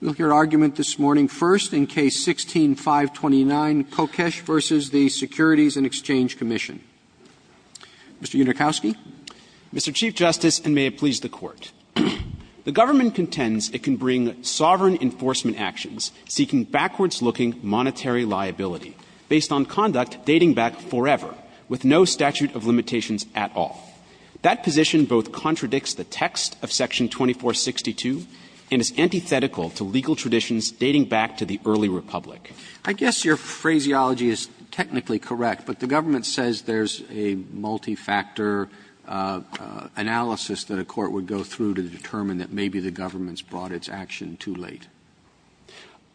We will hear argument this morning first in Case 16-529, Kokesh v. the Securities and Exchange Commission. Mr. Yudorkowsky. Mr. Chief Justice, and may it please the Court, the government contends it can bring sovereign enforcement actions seeking backwards-looking monetary liability based on conduct dating back forever, with no statute of limitations at all. That position both contradicts the text of Section 2462 and is antithetical to legal traditions dating back to the early republic. I guess your phraseology is technically correct, but the government says there's a multifactor analysis that a court would go through to determine that maybe the government's brought its action too late.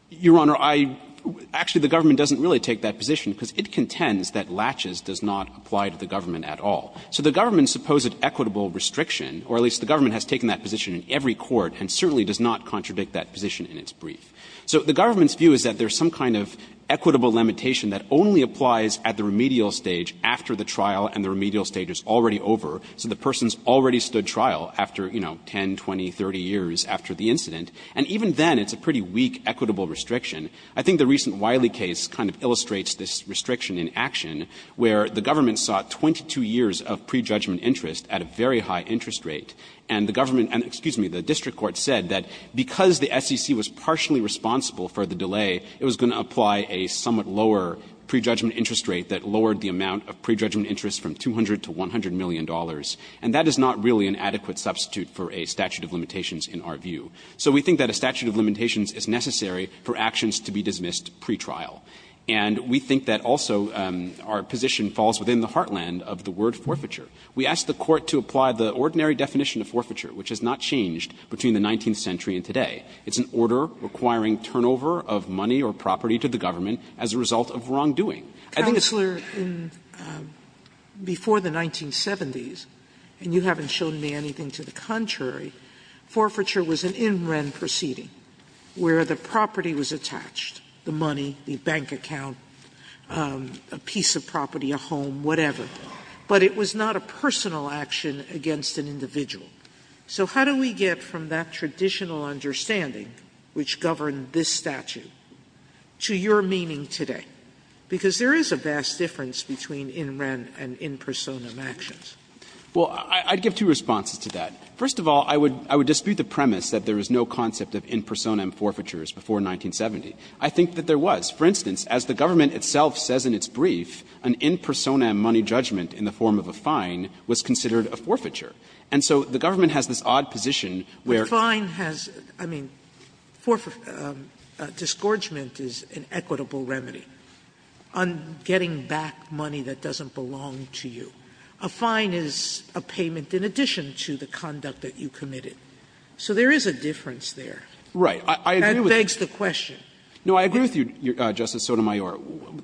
Your Honor, I — actually, the government doesn't really take that position because it contends that laches does not apply to the government at all. So the government's supposed equitable restriction, or at least the government has taken that position in every court and certainly does not contradict that position in its brief. So the government's view is that there's some kind of equitable limitation that only applies at the remedial stage after the trial and the remedial stage is already over. So the person's already stood trial after, you know, 10, 20, 30 years after the incident. And even then, it's a pretty weak equitable restriction. I think the recent Wiley case kind of illustrates this restriction in action, where the government sought 22 years of prejudgment interest at a very high interest rate, and the government — excuse me, the district court said that because the SEC was partially responsible for the delay, it was going to apply a somewhat lower prejudgment interest rate that lowered the amount of prejudgment interest from $200 to $100 million. And that is not really an adequate substitute for a statute of limitations in our view. So we think that a statute of limitations is necessary for actions to be dismissed pretrial. And we think that also our position falls within the heartland of the word forfeiture. We asked the Court to apply the ordinary definition of forfeiture, which has not changed between the 19th century and today. It's an order requiring turnover of money or property to the government as a result of wrongdoing. I think it's the same thing. Sotomayor, before the 1970s, and you haven't shown me anything to the contrary, forfeiture was an in-ren proceeding where the property was attached, the money, the bank account, a piece of property, a home, whatever. But it was not a personal action against an individual. So how do we get from that traditional understanding, which governed this statute, to your meaning today? Because there is a vast difference between in-ren and in personam actions. Well, I'd give two responses to that. First of all, I would dispute the premise that there was no concept of in personam forfeitures before 1970. I think that there was. For instance, as the government itself says in its brief, an in personam money judgment in the form of a fine was considered a forfeiture. And so the government has this odd position where the fine has to do with a forfeiture. Sotomayor, I mean, disgorgement is an equitable remedy on getting back money that doesn't belong to you. A fine is a payment in addition to the conduct that you committed. So there is a difference there. Right. I agree with you. That begs the question. No, I agree with you, Justice Sotomayor.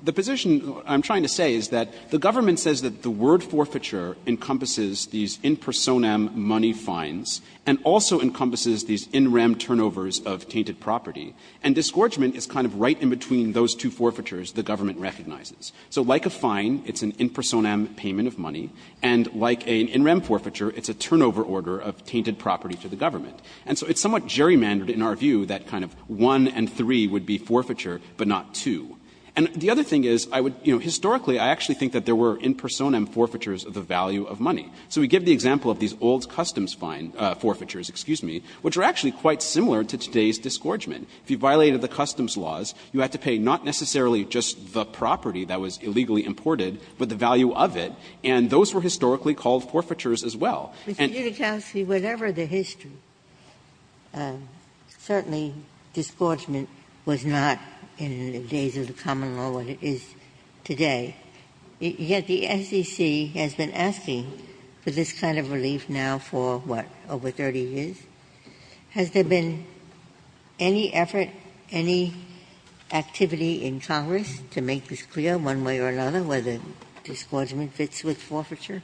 The position I'm trying to say is that the government says that the word forfeiture encompasses these in personam money fines and also encompasses these in rem turnovers of tainted property. And disgorgement is kind of right in between those two forfeitures the government recognizes. So like a fine, it's an in personam payment of money. And like an in rem forfeiture, it's a turnover order of tainted property to the government. And so it's somewhat gerrymandered in our view that kind of one and three would be forfeiture, but not two. And the other thing is, I would, you know, historically I actually think that there were in personam forfeitures of the value of money. So we give the example of these old customs fine forfeitures, excuse me, which are actually quite similar to today's disgorgement. If you violated the customs laws, you had to pay not necessarily just the property that was illegally imported, but the value of it, and those were historically called forfeitures as well. Ginsburg. And you know, Justice, whatever the history, certainly disgorgement was not in the days of the common law what it is today. Yet the SEC has been asking for this kind of relief now for, what, over 30 years? Has there been any effort, any activity in Congress to make this clear one way or another whether disgorgement fits with forfeiture?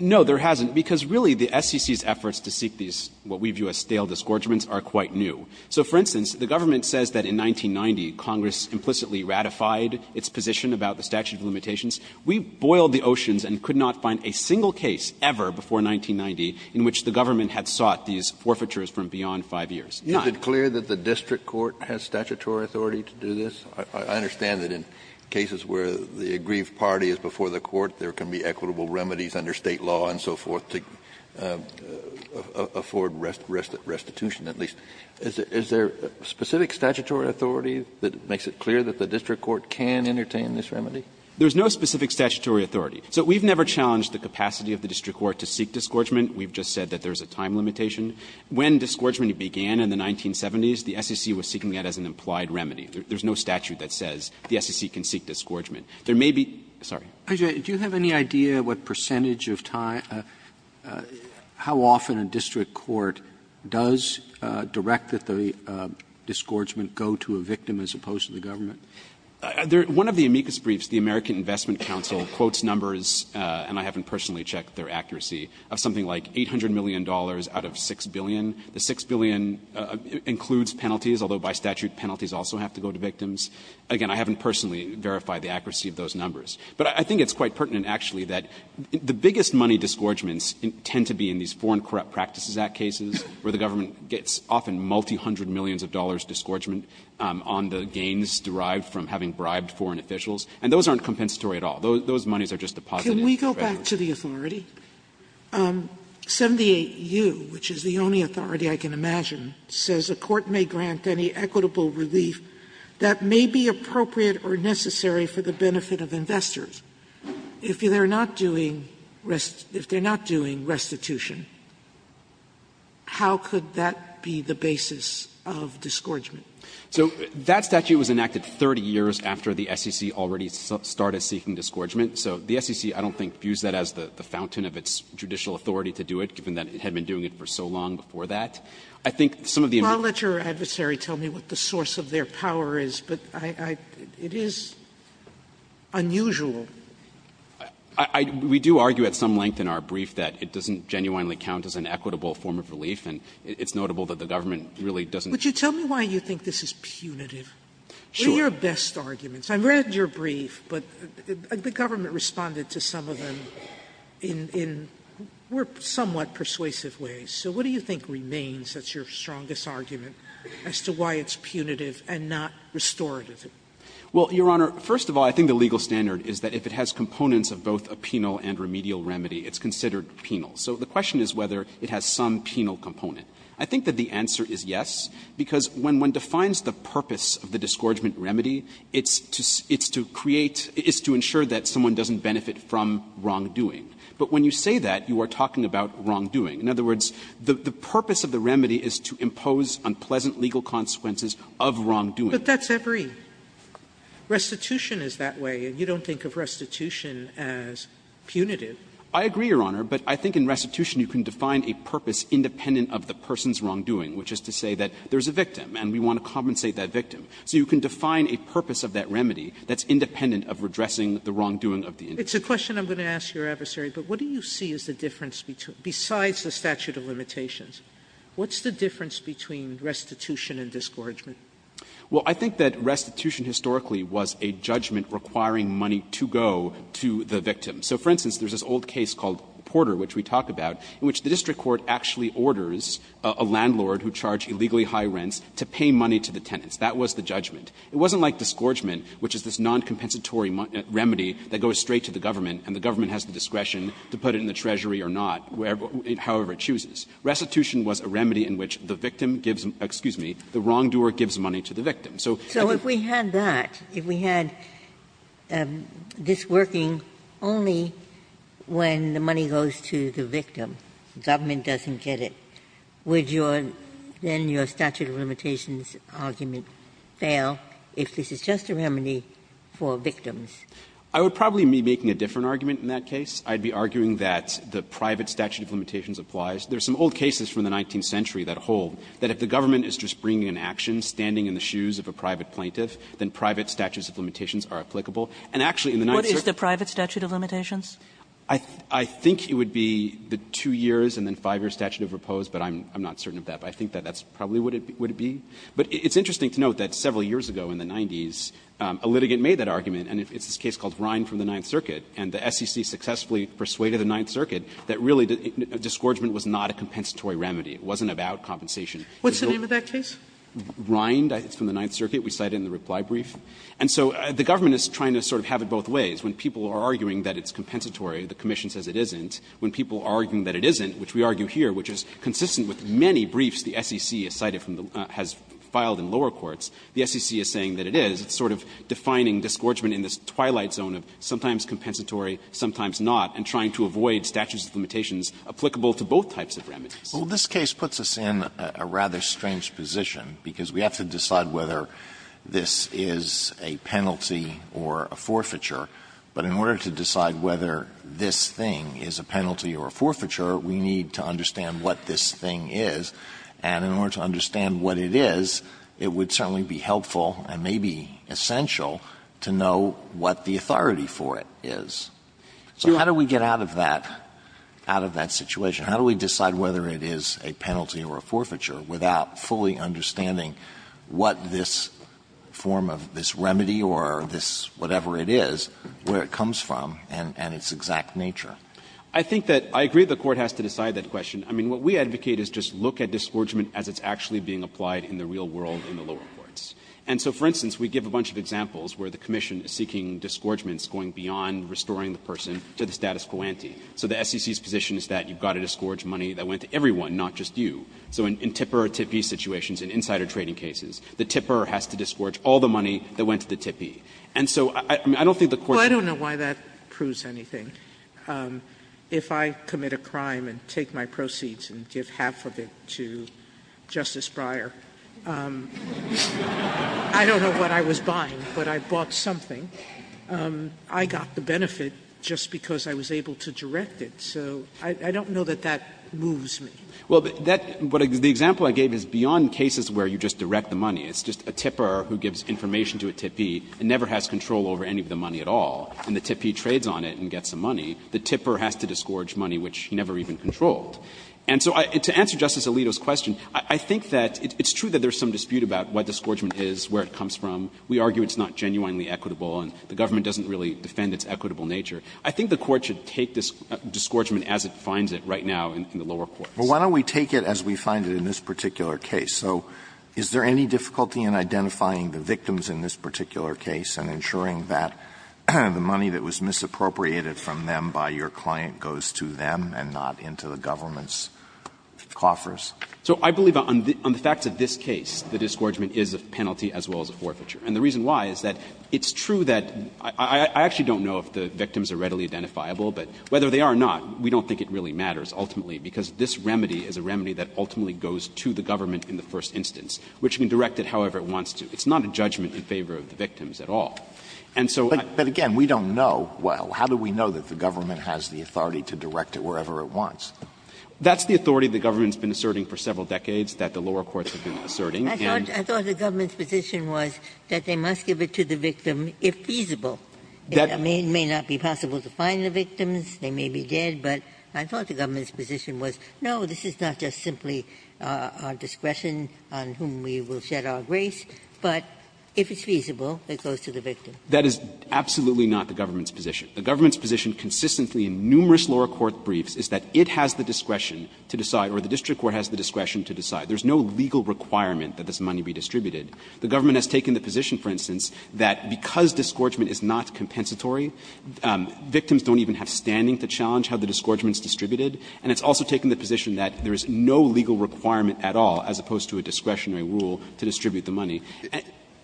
No, there hasn't, because really the SEC's efforts to seek these, what we view as stale disgorgements, are quite new. So, for instance, the government says that in 1990, Congress implicitly ratified its position about the statute of limitations. We boiled the oceans and could not find a single case ever before 1990 in which the government had sought these forfeitures from beyond 5 years. Kennedy. You've been clear that the district court has statutory authority to do this? I understand that in cases where the aggrieved party is before the court, there can be equitable remedies under State law and so forth to afford restitution, at least. Is there specific statutory authority that makes it clear that the district court can entertain this remedy? There is no specific statutory authority. So we've never challenged the capacity of the district court to seek disgorgement. We've just said that there is a time limitation. When disgorgement began in the 1970s, the SEC was seeking that as an implied remedy. There is no statute that says the SEC can seek disgorgement. There may be – sorry. Do you have any idea what percentage of time – how often a district court does direct that the disgorgement go to a victim as opposed to the government? One of the amicus briefs, the American Investment Council quotes numbers, and I haven't personally checked their accuracy, of something like $800 million out of 6 billion. The 6 billion includes penalties, although by statute penalties also have to go to victims. Again, I haven't personally verified the accuracy of those numbers. But I think it's quite pertinent, actually, that the biggest money disgorgements tend to be in these Foreign Corrupt Practices Act cases where the government gets often multi-hundred millions of dollars disgorgement on the gains derived from having bribed foreign officials, and those aren't compensatory at all. Those moneys are just deposited. Sotomayor, can we go back to the authority? 78U, which is the only authority I can imagine, says a court may grant any equitable relief that may be appropriate or necessary for the benefit of investors. If they're not doing restitution, how could that be the basis of disgorgement? So that statute was enacted 30 years after the SEC already started seeking disgorgement. So the SEC, I don't think, views that as the fountain of its judicial authority to do it, given that it had been doing it for so long before that. Sotomayor, I don't know what the source of their power is, but I — it is unusual. We do argue at some length in our brief that it doesn't genuinely count as an equitable form of relief, and it's notable that the government really doesn't — Would you tell me why you think this is punitive? Sure. What are your best arguments? I've read your brief, but the government responded to some of them in somewhat persuasive ways. So what do you think remains as your strongest argument as to why it's punitive and not restorative? Well, Your Honor, first of all, I think the legal standard is that if it has components of both a penal and remedial remedy, it's considered penal. So the question is whether it has some penal component. I think that the answer is yes, because when one defines the purpose of the disgorgement remedy, it's to create — it's to ensure that someone doesn't benefit from wrongdoing. But when you say that, you are talking about wrongdoing. In other words, the purpose of the remedy is to impose unpleasant legal consequences of wrongdoing. But that's every — restitution is that way, and you don't think of restitution as punitive. I agree, Your Honor, but I think in restitution you can define a purpose independent of the person's wrongdoing, which is to say that there is a victim and we want to compensate that victim. So you can define a purpose of that remedy that's independent of redressing the wrongdoing of the individual. It's a question I'm going to ask your adversary, but what do you see is the difference between — besides the statute of limitations, what's the difference between restitution and disgorgement? Well, I think that restitution historically was a judgment requiring money to go to the victim. So, for instance, there's this old case called Porter, which we talk about, in which the district court actually orders a landlord who charged illegally high rents to pay money to the tenants. That was the judgment. It wasn't like disgorgement, which is this noncompensatory remedy that goes straight to the government and the government has the discretion to put it in the treasury or not, however it chooses. Restitution was a remedy in which the victim gives — excuse me, the wrongdoer gives money to the victim. So if you — Ginsburg. So if we had that, if we had this working only when the money goes to the victim, government doesn't get it, would your — then your statute of limitations argument fail if this is just a remedy for victims? I would probably be making a different argument in that case. I'd be arguing that the private statute of limitations applies. There's some old cases from the 19th century that hold that if the government is just bringing an action, standing in the shoes of a private plaintiff, then private statutes of limitations are applicable. And actually in the Ninth Circuit — What is the private statute of limitations? I think it would be the two years and then five-year statute of repose, but I'm not certain of that. But I think that that's probably what it would be. But it's interesting to note that several years ago in the 90s, a litigant made that argument, and it's this case called Rhine from the Ninth Circuit, and the SEC successfully persuaded the Ninth Circuit that really disgorgement was not a compensatory remedy, it wasn't about compensation. Sotomayor What's the name of that case? Rheingold, I think it's from the Ninth Circuit. We cite it in the reply brief. And so the government is trying to sort of have it both ways. When people are arguing that it's compensatory, the commission says it isn't. When people are arguing that it isn't, which we argue here, which is consistent with many briefs the SEC has cited from the — has filed in lower courts, the SEC is saying that it is. It's sort of defining disgorgement in this twilight zone of sometimes compensatory, sometimes not, and trying to avoid statutes of limitations applicable to both types Alito Well, this case puts us in a rather strange position, because we have to decide whether this is a penalty or a forfeiture. But in order to decide whether this thing is a penalty or a forfeiture, we need to understand what this thing is. And in order to understand what it is, it would certainly be helpful and maybe essential to know what the authority for it is. So how do we get out of that — out of that situation? How do we decide whether it is a penalty or a forfeiture without fully understanding what this form of this remedy or this whatever it is, where it comes from, and its exact nature? I think that — I agree the Court has to decide that question. I mean, what we advocate is just look at disgorgement as it's actually being applied in the real world in the lower courts. And so, for instance, we give a bunch of examples where the commission is seeking disgorgements going beyond restoring the person to the status quo ante. So the SEC's position is that you've got to disgorge money that went to everyone, not just you. So in tipper or tippee situations, in insider trading cases, the tipper has to disgorge all the money that went to the tippee. And so I don't think the Court's opinion is that. Sotomayor, I don't know why that proves anything. If I commit a crime and take my proceeds and give half of it to Justice Breyer, I don't know what I was buying, but I bought something. I got the benefit just because I was able to direct it. So I don't know that that moves me. Well, that — the example I gave is beyond cases where you just direct the money. It's just a tipper who gives information to a tippee and never has control over any of the money at all. And the tippee trades on it and gets the money. The tipper has to disgorge money which he never even controlled. And so to answer Justice Alito's question, I think that it's true that there's some dispute about what disgorgement is, where it comes from. We argue it's not genuinely equitable and the government doesn't really defend its equitable nature. I think the Court should take this disgorgement as it finds it right now in the lower courts. Alito, why don't we take it as we find it in this particular case? So is there any difficulty in identifying the victims in this particular case and ensuring that the money that was misappropriated from them by your client goes to them and not into the government's coffers? So I believe on the facts of this case, the disgorgement is a penalty as well as a forfeiture. And the reason why is that it's true that – I actually don't know if the victims are readily identifiable, but whether they are or not, we don't think it really matters ultimately, because this remedy is a remedy that ultimately goes to the government in the first instance, which can direct it however it wants to. It's not a judgment in favor of the victims at all. And so I don't think that the government has the authority to direct it wherever it wants. That's the authority the government has been asserting for several decades that the lower courts have been asserting. Ginsburg. I thought the government's position was that they must give it to the victim if feasible. It may not be possible to find the victims. They may be dead. But I thought the government's position was, no, this is not just simply our discretion on whom we will shed our grace, but if it's feasible, it goes to the victim. That is absolutely not the government's position. The government's position consistently in numerous lower court briefs is that it has the discretion to decide, or the district court has the discretion to decide. There's no legal requirement that this money be distributed. The government has taken the position, for instance, that because disgorgement is not compensatory, victims don't even have standing to challenge how the disgorgement is distributed. And it's also taken the position that there is no legal requirement at all, as opposed to a discretionary rule to distribute the money.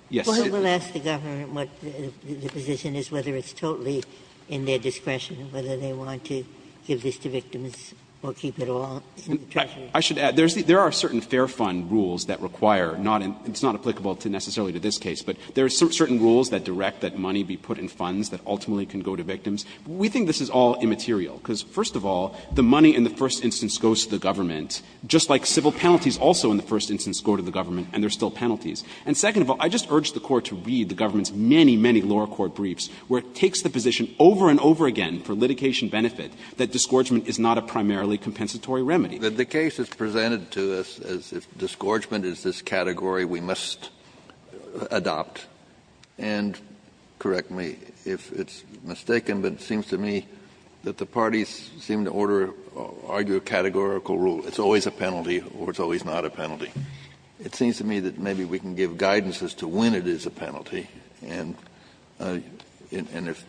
Yes. Ginsburg. I will ask the government what the position is, whether it's totally in their discretion, whether they want to give this to victims or keep it all in the treasury. I should add, there are certain Fair Fund rules that require not and it's not applicable to necessarily to this case, but there are certain rules that direct that money be put in funds that ultimately can go to victims. We think this is all immaterial, because first of all, the money in the first instance goes to the government, just like civil penalties also in the first instance go to the government, and there are still penalties. And second of all, I just urge the Court to read the government's many, many lower court briefs where it takes the position over and over again for litigation benefit that disgorgement is not a primarily compensatory remedy. Kennedy, the case is presented to us as if disgorgement is this category we must adopt, and correct me if it's mistaken, but it seems to me that the parties seem to order or argue a categorical rule. It's always a penalty or it's always not a penalty. It seems to me that maybe we can give guidance as to when it is a penalty, and if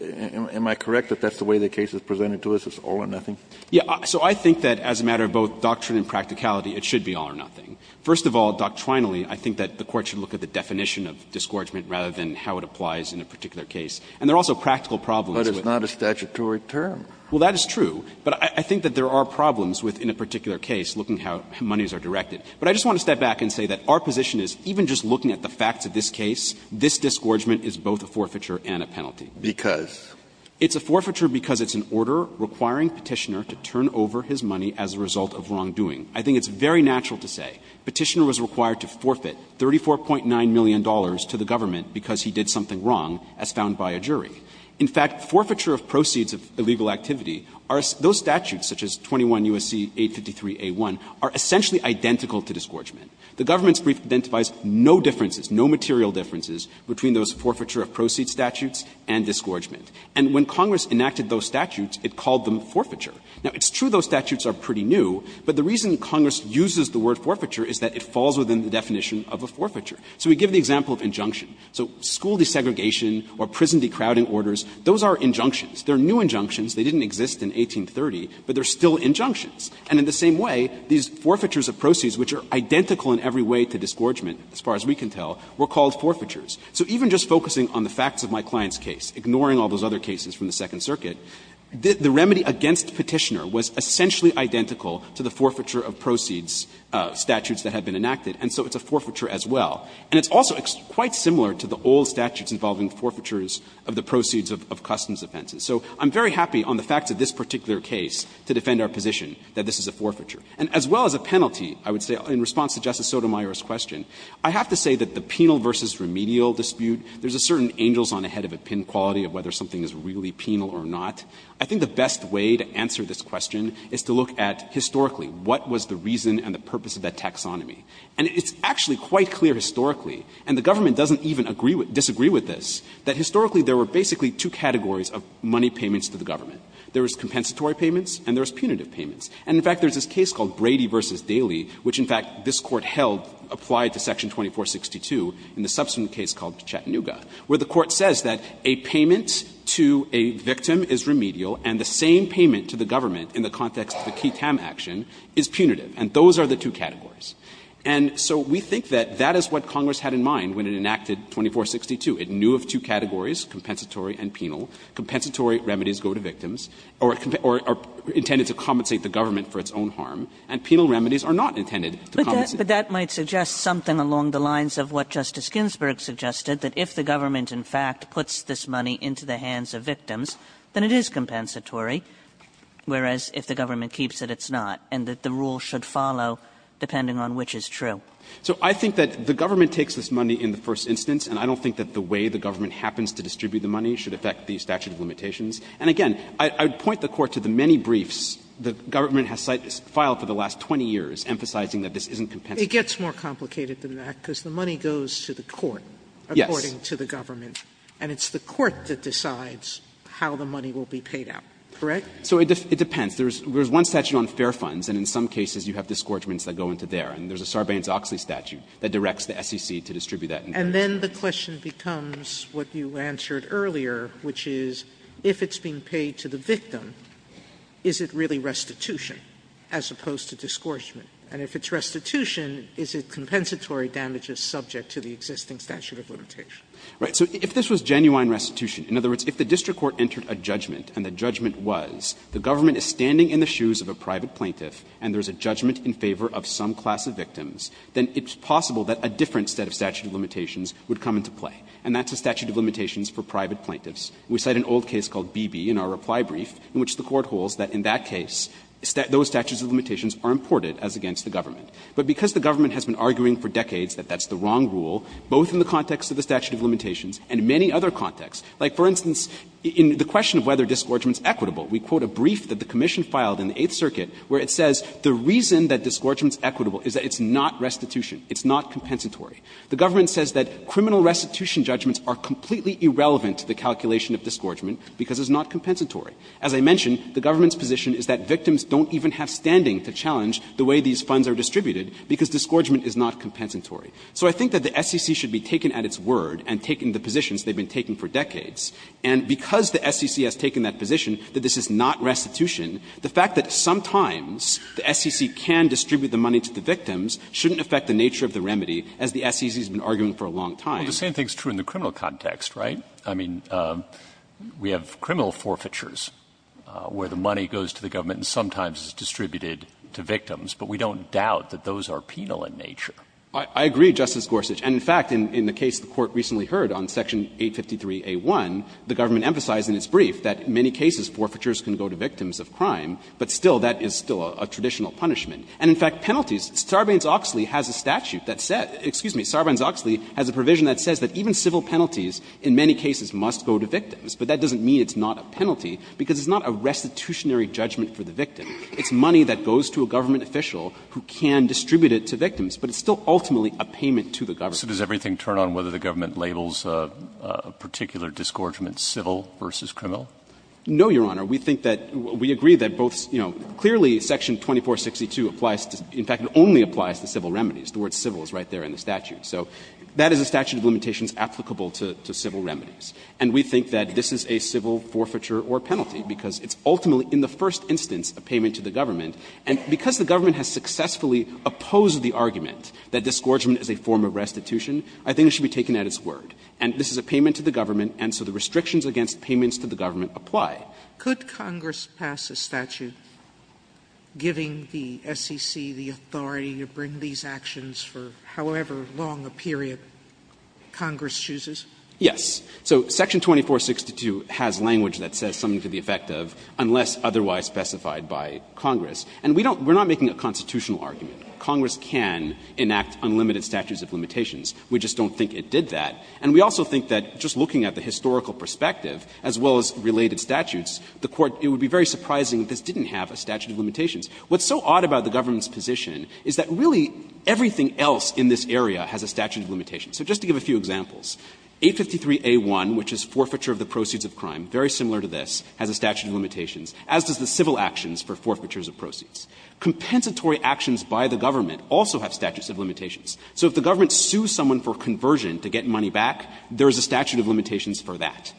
am I correct that that's the way the case is presented to us, it's all or nothing? Yeah. So I think that as a matter of both doctrine and practicality, it should be all or nothing. First of all, doctrinally, I think that the Court should look at the definition of disgorgement rather than how it applies in a particular case. And there are also practical problems with it. But it's not a statutory term. Well, that is true. But I think that there are problems with, in a particular case, looking how monies are directed. But I just want to step back and say that our position is even just looking at the facts of this case, this disgorgement is both a forfeiture and a penalty. Because? It's a forfeiture because it's an order requiring Petitioner to turn over his money as a result of wrongdoing. I think it's very natural to say Petitioner was required to forfeit $34.9 million to the government because he did something wrong, as found by a jury. In fact, forfeiture of proceeds of illegal activity, those statutes, such as 21 U.S.C. 853a1, are essentially identical to disgorgement. The government's brief identifies no differences, no material differences between those forfeiture of proceeds statutes and disgorgement. And when Congress enacted those statutes, it called them forfeiture. Now, it's true those statutes are pretty new, but the reason Congress uses the word forfeiture is that it falls within the definition of a forfeiture. So we give the example of injunction. So school desegregation or prison decrowding orders, those are injunctions. They're new injunctions. They didn't exist in 1830, but they're still injunctions. And in the same way, these forfeitures of proceeds, which are identical in every way to disgorgement, as far as we can tell, were called forfeitures. So even just focusing on the facts of my client's case, ignoring all those other cases from the Second Circuit, the remedy against Petitioner was essentially identical to the forfeiture of proceeds statutes that had been enacted, and so it's a forfeiture as well. And it's also quite similar to the old statutes involving forfeitures of the proceeds of customs offenses. So I'm very happy on the facts of this particular case to defend our position that this is a forfeiture. And as well as a penalty, I would say, in response to Justice Sotomayor's question, I have to say that the penal versus remedial dispute, there's a certain angels on the head of a pin quality of whether something is really penal or not. I think the best way to answer this question is to look at, historically, what was the reason and the purpose of that taxonomy. And it's actually quite clear historically, and the government doesn't even disagree with this, that historically there were basically two categories of money payments to the government. There was compensatory payments and there was punitive payments. And, in fact, there's this case called Brady v. Daly, which, in fact, this Court held applied to section 2462 in the subsequent case called Chattanooga, where the court says that a payment to a victim is remedial and the same payment to the government in the context of the Key Tam action is punitive. And those are the two categories. And so we think that that is what Congress had in mind when it enacted 2462. It knew of two categories, compensatory and penal. Compensatory remedies go to victims or are intended to compensate the government for its own harm, and penal remedies are not intended to compensate. Kagan, But that might suggest something along the lines of what Justice Ginsburg suggested, that if the government, in fact, puts this money into the hands of victims, then it is compensatory, whereas if the government keeps it, it's not, and that the rule should follow depending on which is true. So I think that the government takes this money in the first instance, and I don't think that the way the government happens to distribute the money should affect the statute of limitations. And again, I would point the Court to the many briefs the government has filed for the last 20 years emphasizing that this isn't compensatory. Sotomayor, It gets more complicated than that, because the money goes to the court, according to the government. And it's the court that decides how the money will be paid out, correct? So it depends. There is one statute on fair funds, and in some cases you have disgorgements that go into there. And there is a Sarbanes-Oxley statute that directs the SEC to distribute that. Sotomayor, And then the question becomes what you answered earlier, which is, if it's being paid to the victim, is it really restitution as opposed to disgorgement? And if it's restitution, is it compensatory damages subject to the existing statute of limitation? Right. So if this was genuine restitution, in other words, if the district court entered a judgment, and the judgment was the government is standing in the shoes of a private plaintiff and there is a judgment in favor of some class of victims, then it's possible that a different set of statute of limitations would come into play, and that's a statute of limitations for private plaintiffs. We cite an old case called Beebe in our reply brief, in which the court holds that in that case, those statutes of limitations are imported as against the government. But because the government has been arguing for decades that that's the wrong rule, both in the context of the statute of limitations and in many other contexts, like, for instance, in the question of whether disgorgement is equitable, we quote a brief that the commission filed in the Eighth Circuit where it says the reason that disgorgement is equitable is that it's not restitution, it's not compensatory. The government says that criminal restitution judgments are completely irrelevant to the calculation of disgorgement because it's not compensatory. As I mentioned, the government's position is that victims don't even have standing to challenge the way these funds are distributed because disgorgement is not compensatory. So I think that the SEC should be taken at its word and taken the positions they've been taking for decades, and because the SEC has taken that position, that this is not restitution, the fact that sometimes the SEC can distribute the money to the victims shouldn't affect the nature of the remedy, as the SEC has been arguing for a long time. Roberts Well, the same thing is true in the criminal context, right? I mean, we have criminal forfeitures where the money goes to the government and sometimes is distributed to victims, but we don't doubt that those are penal in nature. I agree, Justice Gorsuch. And in fact, in the case the Court recently heard on Section 853a1, the government emphasized in its brief that in many cases forfeitures can go to victims of crime, but still, that is still a traditional punishment. And in fact, penalties, Sarbanes-Oxley has a statute that says, excuse me, Sarbanes-Oxley has a provision that says that even civil penalties in many cases must go to victims. But that doesn't mean it's not a penalty, because it's not a restitutionary judgment for the victim. It's money that goes to a government official who can distribute it to victims, but it's still ultimately a payment to the government. So, Justice Gorsuch, does everything turn on whether the government labels a particular disgorgement civil versus criminal? No, Your Honor. We think that we agree that both, you know, clearly Section 2462 applies to, in fact, it only applies to civil remedies. The word civil is right there in the statute. So that is a statute of limitations applicable to civil remedies. And we think that this is a civil forfeiture or penalty, because it's ultimately in the first instance a payment to the government. And because the government has successfully opposed the argument that disgorgement is a form of restitution, I think it should be taken at its word. And this is a payment to the government, and so the restrictions against payments to the government apply. Sotomayor, could Congress pass a statute giving the SEC the authority to bring these actions for however long a period Congress chooses? Yes. So Section 2462 has language that says something to the effect of unless otherwise specified by Congress. And we don't we're not making a constitutional argument. Congress can enact unlimited statutes of limitations. We just don't think it did that. And we also think that just looking at the historical perspective, as well as related statutes, the Court, it would be very surprising if this didn't have a statute of limitations. What's so odd about the government's position is that really everything else in this area has a statute of limitations. So just to give a few examples, 853a1, which is forfeiture of the proceeds of crime, very similar to this, has a statute of limitations, as does the civil actions for forfeitures of proceeds. Compensatory actions by the government also have statutes of limitations. So if the government sues someone for conversion to get money back, there is a statute of limitations for that.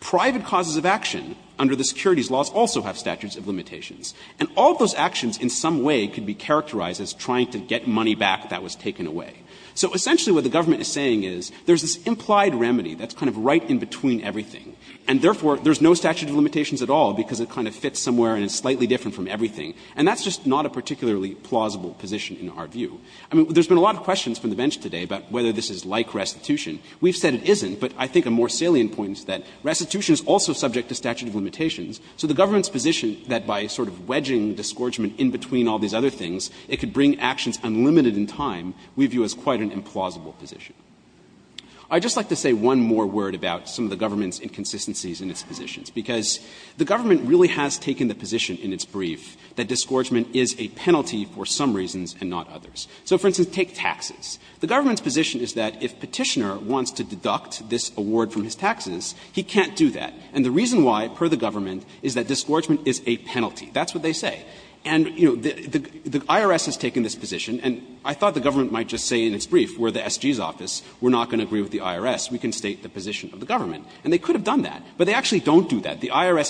Private causes of action under the securities laws also have statutes of limitations. And all of those actions in some way could be characterized as trying to get money back that was taken away. So essentially what the government is saying is there's this implied remedy that's kind of right in between everything, and therefore there's no statute of limitations at all because it kind of fits somewhere and it's slightly different from everything. And that's just not a particularly plausible position in our view. I mean, there's been a lot of questions from the bench today about whether this is like restitution. We've said it isn't, but I think a more salient point is that restitution is also subject to statute of limitations. So the government's position that by sort of wedging disgorgement in between all these other things, it could bring actions unlimited in time, we view as quite an implausible position. I'd just like to say one more word about some of the government's inconsistencies in its positions, because the government really has taken the position in its brief that disgorgement is a penalty for some reasons and not others. So, for instance, take taxes. The government's position is that if Petitioner wants to deduct this award from his taxes, he can't do that. And the reason why, per the government, is that disgorgement is a penalty. That's what they say. And, you know, the IRS has taken this position, and I thought the government might just say in its brief, we're the SG's office, we're not going to agree with the IRS, we can state the position of the government. And they could have done that, but they actually don't do that. The IRS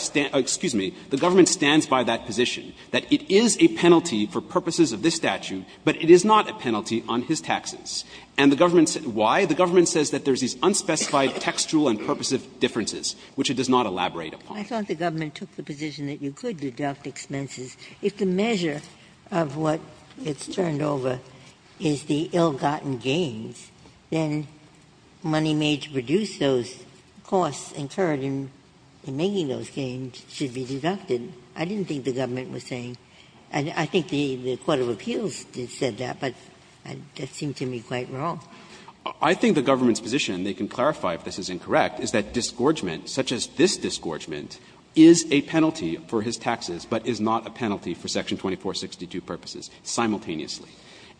stands by that position, that it is a penalty for purposes of this statute, but it is not a penalty on his taxes. And the government says why? The government says that there's these unspecified textual and purposive differences, which it does not elaborate upon. Ginsburg. I thought the government took the position that you could deduct expenses if the measure of what it's turned over is the ill-gotten gains, then money made to reduce those costs incurred in making those gains should be deducted. I didn't think the government was saying that. I think the court of appeals did say that, but that seemed to me quite wrong. I think the government's position, and they can clarify if this is incorrect, is that disgorgement, such as this disgorgement, is a penalty for his taxes, but is not a penalty for Section 2462 purposes simultaneously.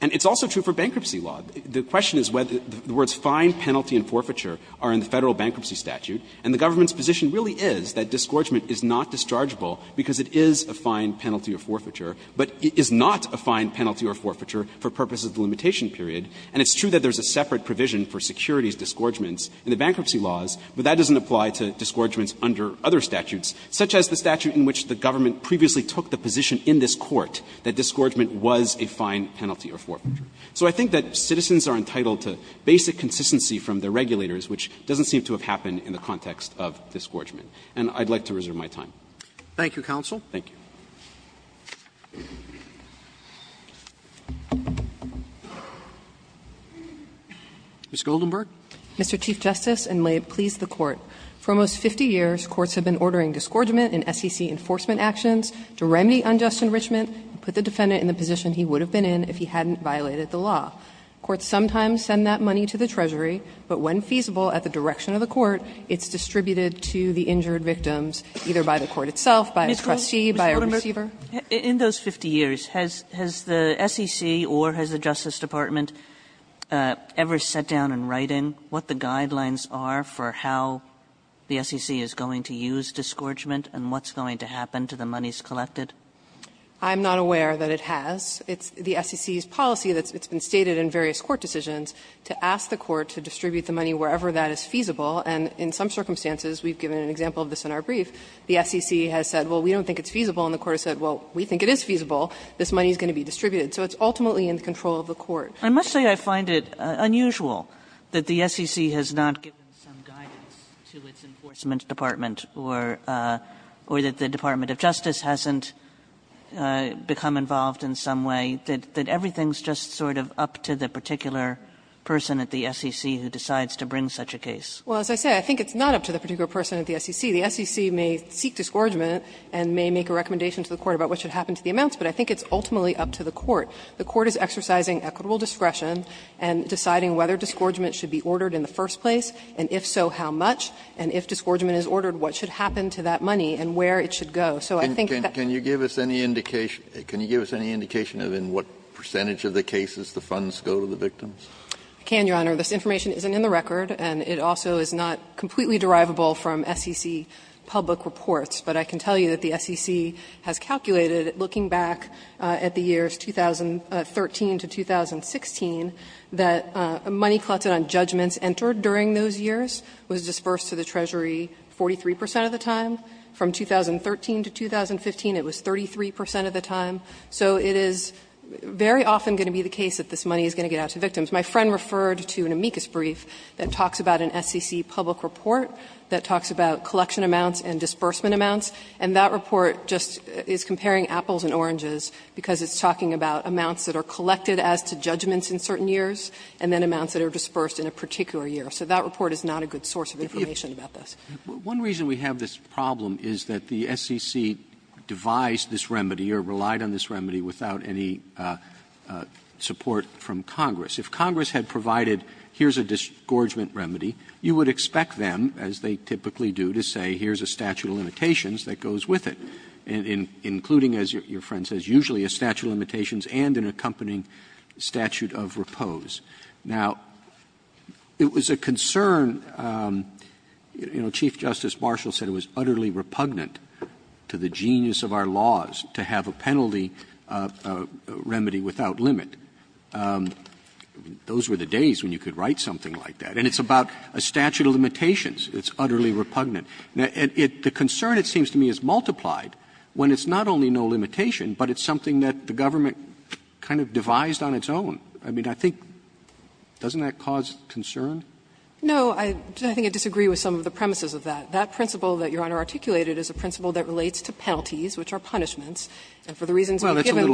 And it's also true for bankruptcy law. The question is whether the words fine, penalty, and forfeiture are in the Federal bankruptcy statute, and the government's position really is that disgorgement is not dischargeable because it is a fine, penalty, or forfeiture, but it is not a fine, penalty, or forfeiture for purposes of the limitation period. And it's true that there's a separate provision for securities disgorgements in the bankruptcy laws, but that doesn't apply to disgorgements under other statutes, such as the statute in which the government previously took the position in this court that disgorgement was a fine, penalty, or forfeiture. So I think that citizens are entitled to basic consistency from their regulators, which doesn't seem to have happened in the context of disgorgement. And I'd like to reserve my time. Roberts. Thank you, counsel. Thank you. Ms. Goldenberg. Mr. Chief Justice, and may it please the Court. For almost 50 years, courts have been ordering disgorgement in SEC enforcement actions to remedy unjust enrichment and put the defendant in the position he would have been in if he hadn't violated the law. Courts sometimes send that money to the treasury, but when feasible at the direction of the court, it's distributed to the injured victims, either by the court itself, by a trustee, by a receiver. Ms. Goldenberg, in those 50 years, has the SEC or has the Justice Department ever sat down in writing what the guidelines are for how the SEC is going to use disgorgement and what's going to happen to the monies collected? I'm not aware that it has. It's the SEC's policy that's been stated in various court decisions to ask the court to distribute the money wherever that is feasible, and in some circumstances we've given an example of this in our brief. The SEC has said, well, we don't think it's feasible, and the court has said, well, we think it is feasible. This money is going to be distributed. So it's ultimately in the control of the court. I must say, I find it unusual that the SEC has not given some guidance to its enforcement department, or that the Department of Justice hasn't become involved in some way, that everything's just sort of up to the particular person at the SEC who decides to bring such a case. Well, as I say, I think it's not up to the particular person at the SEC. The SEC may seek disgorgement and may make a recommendation to the court about what should happen to the amounts, but I think it's ultimately up to the court. The court is exercising equitable discretion and deciding whether disgorgement should be ordered in the first place, and if so, how much, and if disgorgement is ordered, what should happen to that money and where it should go. So I think that's the case. Kennedy, can you give us any indication of in what percentage of the cases the funds go to the victims? I can, Your Honor. This information isn't in the record, and it also is not completely derivable from SEC public reports. But I can tell you that the SEC has calculated, looking back at the years 2013 to 2016, 43 percent of the time. From 2013 to 2015, it was 33 percent of the time. So it is very often going to be the case that this money is going to get out to victims. My friend referred to an amicus brief that talks about an SEC public report that talks about collection amounts and disbursement amounts, and that report just is comparing apples and oranges because it's talking about amounts that are collected as to judgments in certain years and then amounts that are disbursed in a particular year. So that report is not a good source of information about this. One reason we have this problem is that the SEC devised this remedy or relied on this remedy without any support from Congress. If Congress had provided here's a disgorgement remedy, you would expect them, as they typically do, to say here's a statute of limitations that goes with it, including, as your friend says, usually a statute of limitations and an accompanying statute of repose. Now, it was a concern, you know, Chief Justice Marshall said it was utterly repugnant to the genius of our laws to have a penalty remedy without limit. Those were the days when you could write something like that. And it's about a statute of limitations. It's utterly repugnant. The concern, it seems to me, is multiplied when it's not only no limitation, but it's something that the government kind of devised on its own. I mean, I think doesn't that cause concern? No, I think I disagree with some of the premises of that. That principle that Your Honor articulated is a principle that relates to penalties, which are punishments. And for the reasons we've given,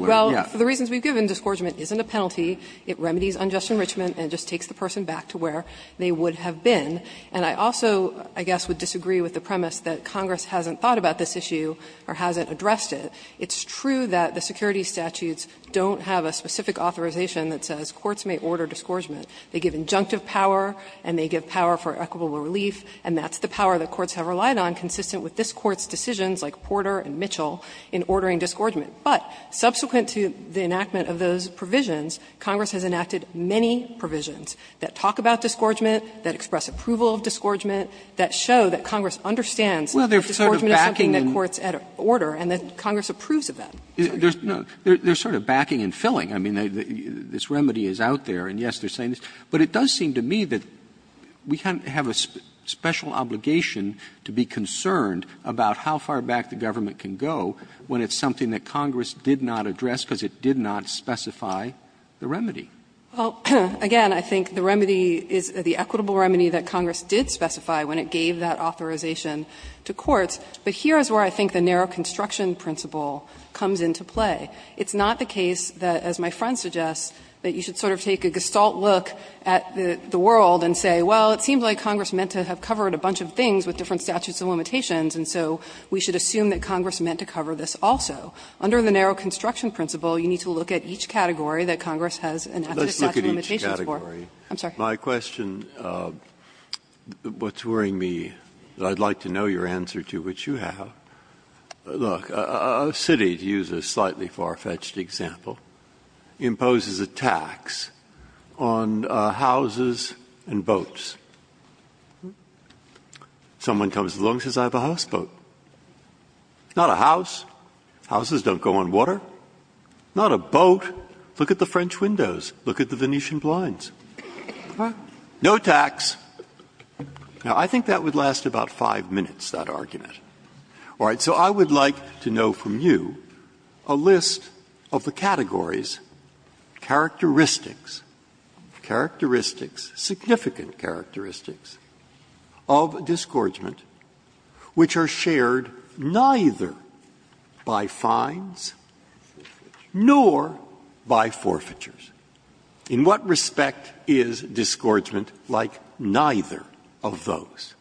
well, for the reasons we've given, disgorgement isn't a penalty. It remedies unjust enrichment and just takes the person back to where they would have been. And I also, I guess, would disagree with the premise that Congress hasn't thought about this issue or hasn't addressed it. It's true that the security statutes don't have a specific authorization that says courts may order disgorgement. They give injunctive power and they give power for equitable relief, and that's the power that courts have relied on, consistent with this Court's decisions like Porter and Mitchell, in ordering disgorgement. But subsequent to the enactment of those provisions, Congress has enacted many provisions that talk about disgorgement, that express approval of disgorgement, that show that Congress understands that disgorgement is something that courts order and that Congress approves of that. Roberts They're sort of backing and filling. I mean, this remedy is out there, and yes, they're saying this. But it does seem to me that we have a special obligation to be concerned about how far back the government can go when it's something that Congress did not address, because it did not specify the remedy. Well, again, I think the remedy is the equitable remedy that Congress did specify when it gave that authorization to courts. But here is where I think the narrow construction principle comes into play. It's not the case that, as my friend suggests, that you should sort of take a gestalt look at the world and say, well, it seems like Congress meant to have covered a bunch of things with different statutes of limitations, and so we should assume that Congress meant to cover this also. Under the narrow construction principle, you need to look at each category that Congress has enacted statute of limitations for. Breyer Let's look at each category. Look, a city, to use a slightly far-fetched example, imposes a tax on houses and boats. Someone comes along and says, I have a houseboat. It's not a house. Houses don't go on water. It's not a boat. Look at the French windows. Look at the Venetian blinds. No tax. Now, I think that would last about five minutes, that argument. All right. So I would like to know from you a list of the categories, characteristics, characteristics, significant characteristics, of disgorgement which are shared neither by fines nor by forfeitures. In what respect is disgorgement like neither of those?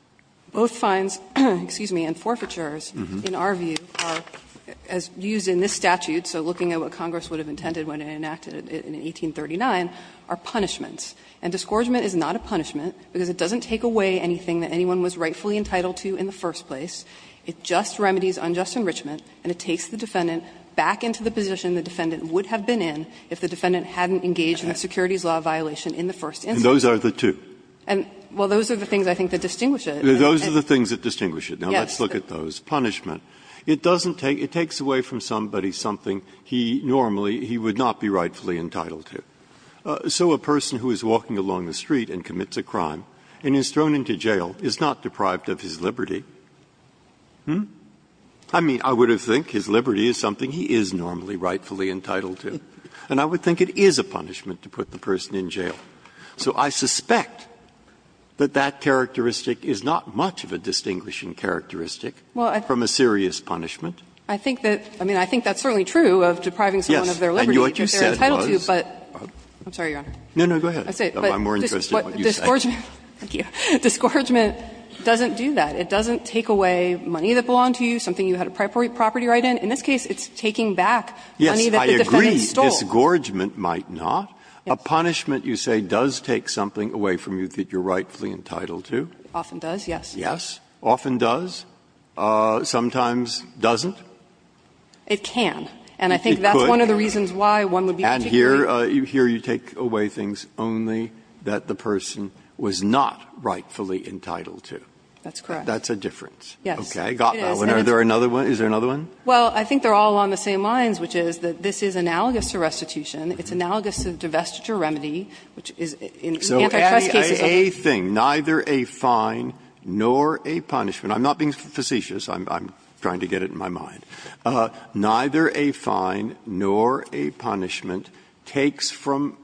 Both fines, excuse me, and forfeitures in our view are, as used in this statute, so looking at what Congress would have intended when it enacted it in 1839, are punishments. And disgorgement is not a punishment because it doesn't take away anything that anyone was rightfully entitled to in the first place. It just remedies unjust enrichment, and it takes the defendant back into the position the defendant would have been in if the defendant hadn't engaged in a securities law violation in the first instance. Breyer And those are the two? And, well, those are the things I think that distinguish it. Breyer Those are the things that distinguish it. Now, let's look at those. Punishment. It doesn't take – it takes away from somebody something he normally – he would not be rightfully entitled to. So a person who is walking along the street and commits a crime and is thrown into jail is not deprived of his liberty. Hmm? I mean, I would have think his liberty is something he is normally rightfully entitled to. And I would think it is a punishment to put the person in jail. So I suspect that that characteristic is not much of a distinguishing characteristic from a serious punishment. I think that – I mean, I think that's certainly true of depriving someone of their Breyer Yes, and what you said was – I'm sorry, Your Honor. Breyer No, no, go ahead. I'm more interested in what you said. Thank you. Discouragement doesn't do that. It doesn't take away money that belonged to you, something you had a property right in. In this case, it's taking back money that the defendant stole. Breyer Yes, I agree. Discouragement might not. A punishment, you say, does take something away from you that you're rightfully entitled to? Often does, yes. Breyer Yes. Often does? Sometimes doesn't? It can. And I think that's one of the reasons why one would be particularly Breyer And here you take away things only that the person was not rightfully entitled to. That's correct. Breyer That's a difference. Yes. Breyer Okay, I got that one. Is there another one? Is there another one? Well, I think they're all on the same lines, which is that this is analogous to restitution. It's analogous to divestiture remedy, which is in antitrust cases Breyer So adding a thing, neither a fine nor a punishment, I'm not being facetious. I'm trying to get it in my mind. Neither a fine nor a punishment takes from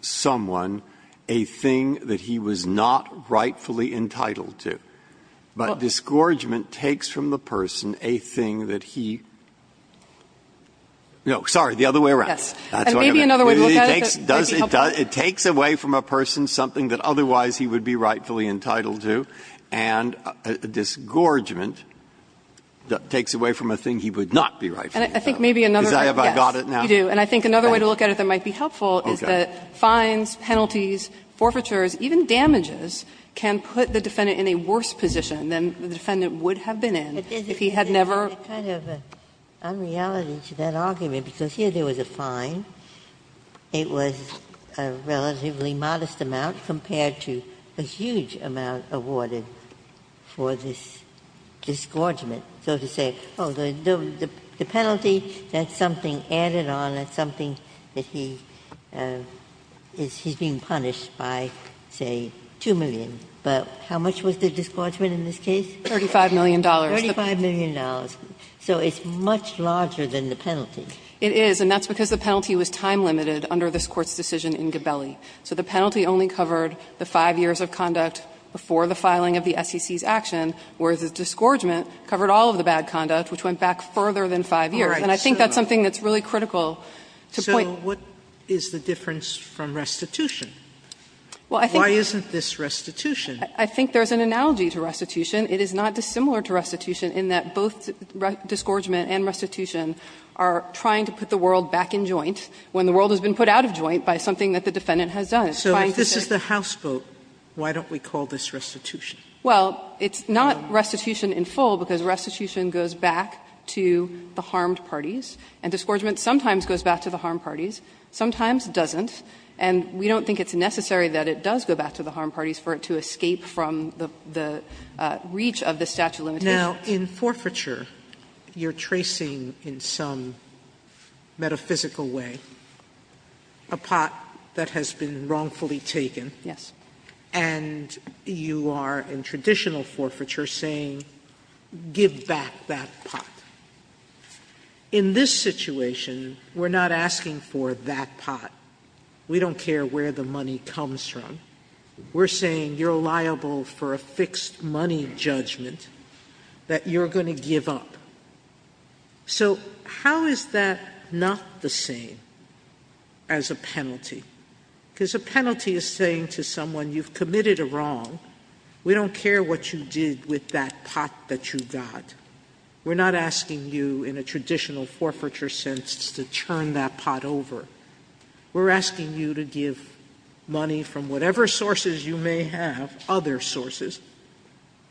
someone a thing that he was not rightfully entitled to. But discouragement takes from the person a thing that he no, sorry, the other way around. Breyer That's what I meant. It takes away from a person something that otherwise he would be rightfully entitled to, and a disgorgement takes away from a thing he would not be rightfully entitled to. Is that if I got it now? Yes, you do. And I think another way to look at it that might be helpful is that fines, penalties, forfeitures, even damages can put the defendant in a worse position than the defendant would have been in if he had never Ginsburg It's kind of an unreality to that argument, because here there was a fine. It was a relatively modest amount compared to a huge amount awarded for this disgorgement, so to say, oh, the penalty, that's something added on, that's something that he's being punished by, say, $2 million. But how much was the disgorgement in this case? $35 million. $35 million. So it's much larger than the penalty. It is, and that's because the penalty was time limited under this Court's decision in Gabelli. So the penalty only covered the 5 years of conduct before the filing of the SEC's action, whereas the disgorgement covered all of the bad conduct, which went back further than 5 years. And I think that's something that's really critical to point to. Sotomayor So what is the difference from restitution? Why isn't this restitution? I think there's an analogy to restitution. It is not dissimilar to restitution in that both disgorgement and restitution are trying to put the world back in joint when the world has been put out of joint by something that the defendant has done. It's trying to say Sotomayor So if this is the House vote, why don't we call this restitution? Well, it's not restitution in full because restitution goes back to the harmed parties, and disgorgement sometimes goes back to the harmed parties, sometimes doesn't, and we don't think it's necessary that it does go back to the harmed parties for it to escape from the reach of the statute of limitations. Sotomayor Now, in forfeiture, you're tracing in some metaphysical way a pot that has been wrongfully taken. And you are, in traditional forfeiture, saying give back that pot. In this situation, we're not asking for that pot. We don't care where the money comes from. We're saying you're liable for a fixed money judgment that you're going to give up. So how is that not the same as a penalty? Because a penalty is saying to someone, you've committed a wrong. We don't care what you did with that pot that you got. We're not asking you, in a traditional forfeiture sense, to turn that pot over. We're asking you to give money from whatever sources you may have, other sources,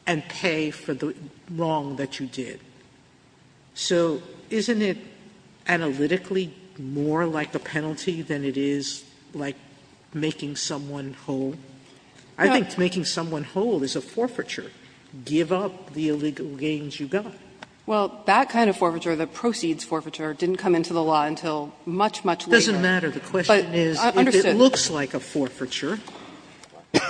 and pay for the wrong that you did. So isn't it analytically more like a penalty than it is like making someone whole? I think making someone whole is a forfeiture. Give up the illegal gains you got. Well, that kind of forfeiture, the proceeds forfeiture, didn't come into the law until much, much later. Sotomayor, but I understand. Sotomayor,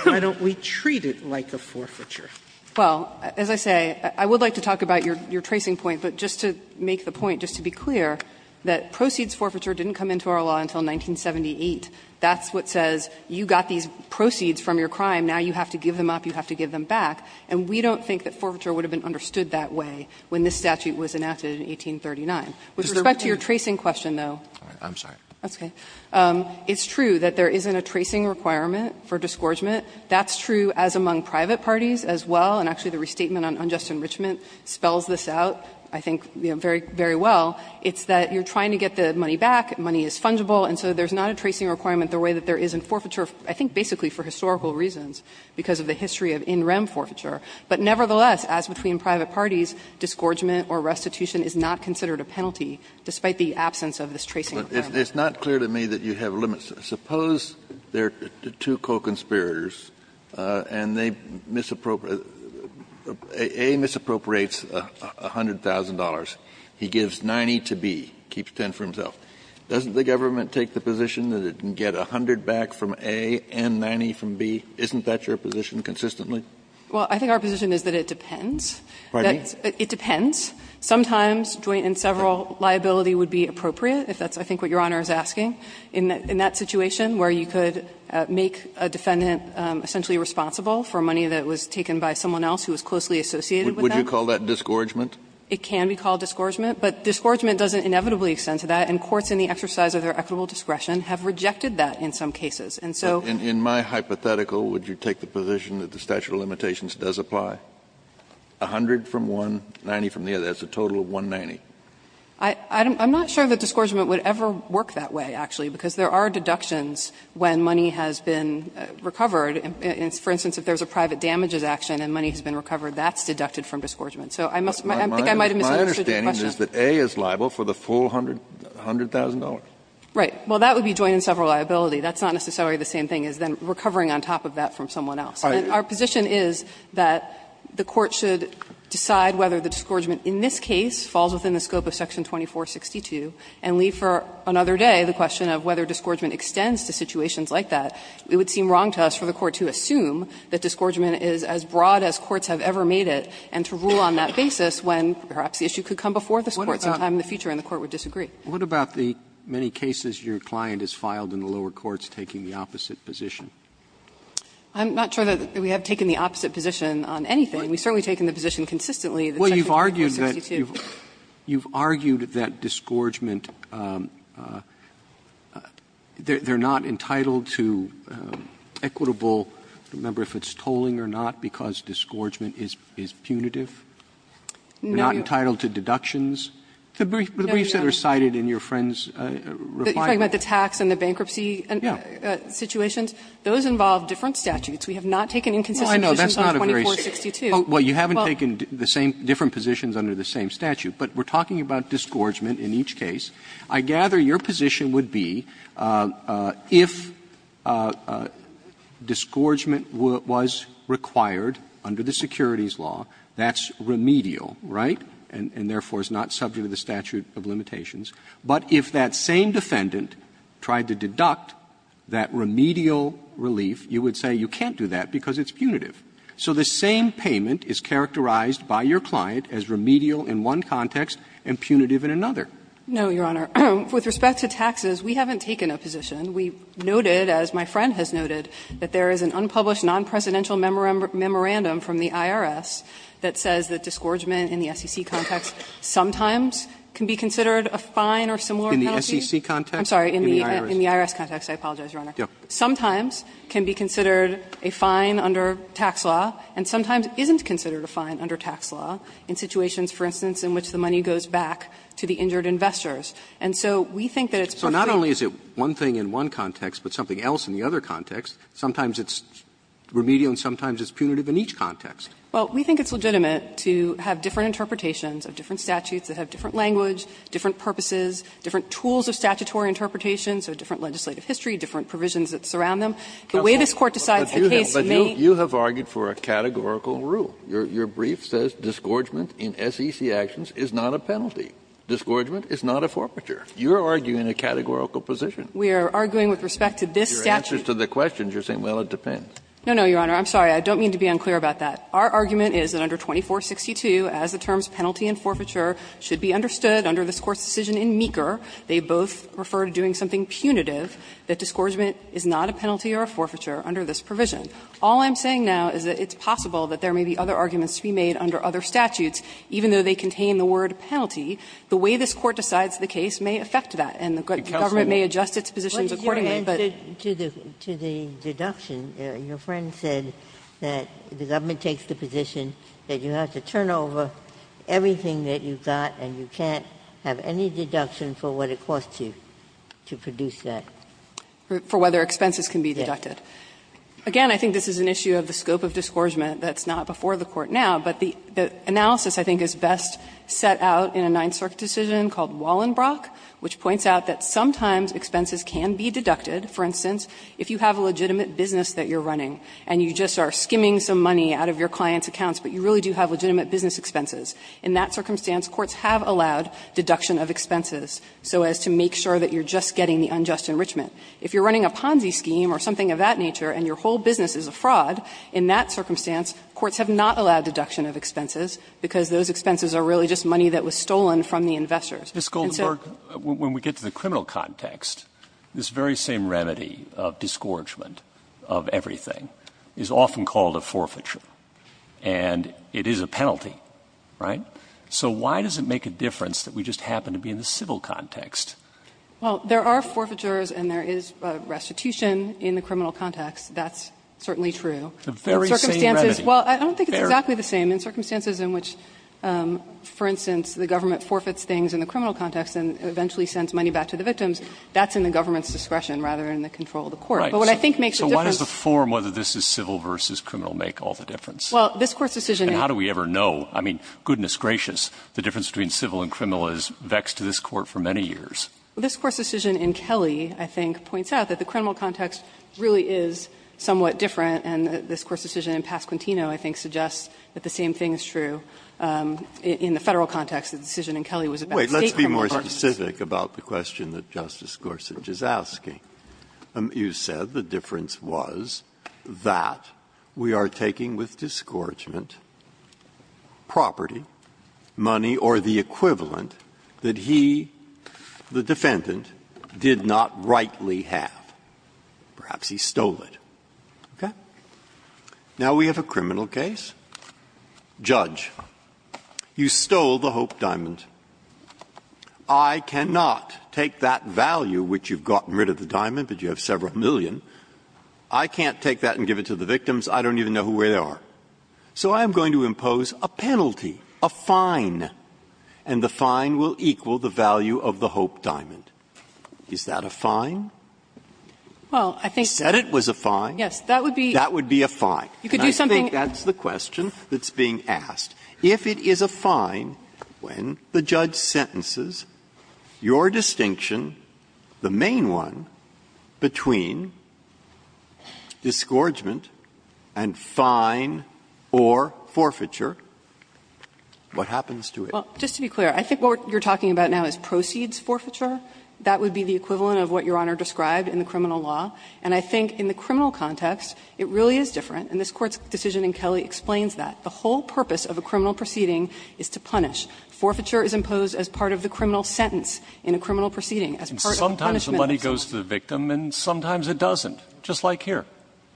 why don't we treat it like a forfeiture? Well, as I say, I would like to talk about your tracing point, but just to make the point, just to be clear, that proceeds forfeiture didn't come into our law until 1978. That's what says you got these proceeds from your crime, now you have to give them up, you have to give them back. And we don't think that forfeiture would have been understood that way. When this statute was enacted in 1839. With respect to your tracing question, though. I'm sorry. That's okay. It's true that there isn't a tracing requirement for disgorgement. That's true as among private parties as well, and actually the restatement on unjust enrichment spells this out, I think, very well. It's that you're trying to get the money back, money is fungible, and so there's not a tracing requirement the way that there is in forfeiture, I think basically for historical reasons, because of the history of in rem forfeiture. But nevertheless, as between private parties, disgorgement or restitution is not considered a penalty, despite the absence of this tracing requirement. Kennedy, it's not clear to me that you have limits. Suppose there are two co-conspirators and they misappropriate, A misappropriates $100,000, he gives 90 to B, keeps 10 for himself. Doesn't the government take the position that it can get 100 back from A and 90 from B? Isn't that your position consistently? Well, I think our position is that it depends. It depends. Sometimes joint and several liability would be appropriate, if that's I think what Your Honor is asking. In that situation where you could make a defendant essentially responsible for money that was taken by someone else who was closely associated with them. Would you call that disgorgement? It can be called disgorgement, but disgorgement doesn't inevitably extend to that, and courts in the exercise of their equitable discretion have rejected that in some cases. And so In my hypothetical, would you take the position that the statute of limitations does apply? 100 from one, 90 from the other. That's a total of 190. I'm not sure that disgorgement would ever work that way, actually, because there are deductions when money has been recovered. For instance, if there's a private damages action and money has been recovered, that's deducted from disgorgement. So I must My understanding is that A is liable for the full $100,000. Right. Well, that would be joint and several liability. That's not necessarily the same thing as then recovering on top of that from someone else. And our position is that the court should decide whether the disgorgement in this case falls within the scope of section 2462 and leave for another day the question of whether disgorgement extends to situations like that. It would seem wrong to us for the court to assume that disgorgement is as broad as courts have ever made it and to rule on that basis when perhaps the issue could come before this Court sometime in the future and the court would disagree. Roberts What about the many cases your client has filed in the lower courts taking the opposite position? I'm not sure that we have taken the opposite position on anything. We've certainly taken the position consistently that section 2462. Well, you've argued that disgorgement, they're not entitled to equitable, I don't remember if it's tolling or not, because disgorgement is punitive. No. They're not entitled to deductions. The briefs that are cited in your friend's refinement. You're talking about the tax and the bankruptcy situations? Yeah. Those involve different statutes. Well, I know. That's not a very – well, you haven't taken the same – different positions under the same statute. But we're talking about disgorgement in each case. I gather your position would be if disgorgement was required under the securities law, that's remedial, right? And therefore, it's not subject to the statute of limitations. But if that same defendant tried to deduct that remedial relief, you would say you can't do that because it's punitive. So the same payment is characterized by your client as remedial in one context and punitive in another. No, Your Honor. With respect to taxes, we haven't taken a position. We noted, as my friend has noted, that there is an unpublished nonpresidential memorandum from the IRS that says that disgorgement in the SEC context sometimes can be considered a fine or similar penalty. In the SEC context? I'm sorry. In the IRS. In the IRS context. I apologize, Your Honor. Yeah. Sometimes can be considered a fine under tax law and sometimes isn't considered a fine under tax law in situations, for instance, in which the money goes back to the injured investors. And so we think that it's perfectly – So not only is it one thing in one context, but something else in the other context. Sometimes it's remedial and sometimes it's punitive in each context. Well, we think it's legitimate to have different interpretations of different statutes that have different language, different purposes, different tools of statutory interpretation, so different legislative history, different provisions that surround them. The way this Court decides the case may – But you have argued for a categorical rule. Your brief says disgorgement in SEC actions is not a penalty. Disgorgement is not a forfeiture. You're arguing a categorical position. We are arguing with respect to this statute. Kennedy, in your answers to the questions, you're saying, well, it depends. No, no, Your Honor. I'm sorry. I don't mean to be unclear about that. Our argument is that under 2462, as the terms penalty and forfeiture should be understood under this Court's decision in Meeker, they both refer to doing something punitive, that disgorgement is not a penalty or a forfeiture under this provision. All I'm saying now is that it's possible that there may be other arguments to be made under other statutes, even though they contain the word penalty. The way this Court decides the case may affect that, and the government may adjust its positions accordingly, but – Ginsburg To the deduction, your friend said that the government takes the position that you have to turn over everything that you've got and you can't have any deduction for what it costs you to produce that. For whether expenses can be deducted. Again, I think this is an issue of the scope of disgorgement that's not before the Court now, but the analysis I think is best set out in a Ninth Circuit decision called Wallenbrock, which points out that sometimes expenses can be deducted, for instance, if you have a legitimate business that you're running and you just are skimming some money out of your client's accounts, but you really do have legitimate business expenses. In that circumstance, courts have allowed deduction of expenses so as to make sure that you're just getting the unjust enrichment. If you're running a Ponzi scheme or something of that nature and your whole business is a fraud, in that circumstance courts have not allowed deduction of expenses because those expenses are really just money that was stolen from the investors. And so the very same remedy in circumstances in which, for instance, the government forfeits things and the criminal context is that there is a restitution in the criminal context, that's certainly true, but in circumstances in which there is a restitution in the criminal context, that's not the case. And so I don't think it's exactly the same in circumstances in which, for instance, the government forfeits things in the criminal context and eventually sends money back to the victims. That's in the government's discretion rather than in the control of the court. But what I think makes the difference is that there is a restitution in the criminal context, that's not the case. Roberts. So why does the form whether this is civil versus criminal make all the difference? Well, this Court's decision in Kelly, I think, points out that the criminal context really is somewhat different, and this Court's decision in Pasquantino I think suggests that the same thing is true in the Federal context. The decision in Kelly was about the state criminal context. Breyer. Wait. Let's be more specific about the question that Justice Gorsuch is asking. You said the difference was that we are taking with discouragement property, money, or the equivalent that he, the defendant, did not rightly have. Perhaps he stole it. Okay? Now we have a criminal case. Judge, you stole the Hope diamond. I cannot take that value, which you've gotten rid of the diamond, but you have several million. I can't take that and give it to the victims. I don't even know where they are. So I am going to impose a penalty, a fine, and the fine will equal the value of the Hope diamond. Is that a fine? Well, I think that's a fine. You said it was a fine. Yes. That would be a fine. You could do something else. That's the question that's being asked. If it is a fine, when the judge sentences your distinction, the main one, between discouragement and fine or forfeiture, what happens to it? Well, just to be clear, I think what you're talking about now is proceeds forfeiture. That would be the equivalent of what Your Honor described in the criminal law. And I think in the criminal context, it really is different, and this Court's decision in Kelley explains that. The whole purpose of a criminal proceeding is to punish. Forfeiture is imposed as part of the criminal sentence in a criminal proceeding, as part of the punishment. Sometimes the money goes to the victim, and sometimes it doesn't, just like here.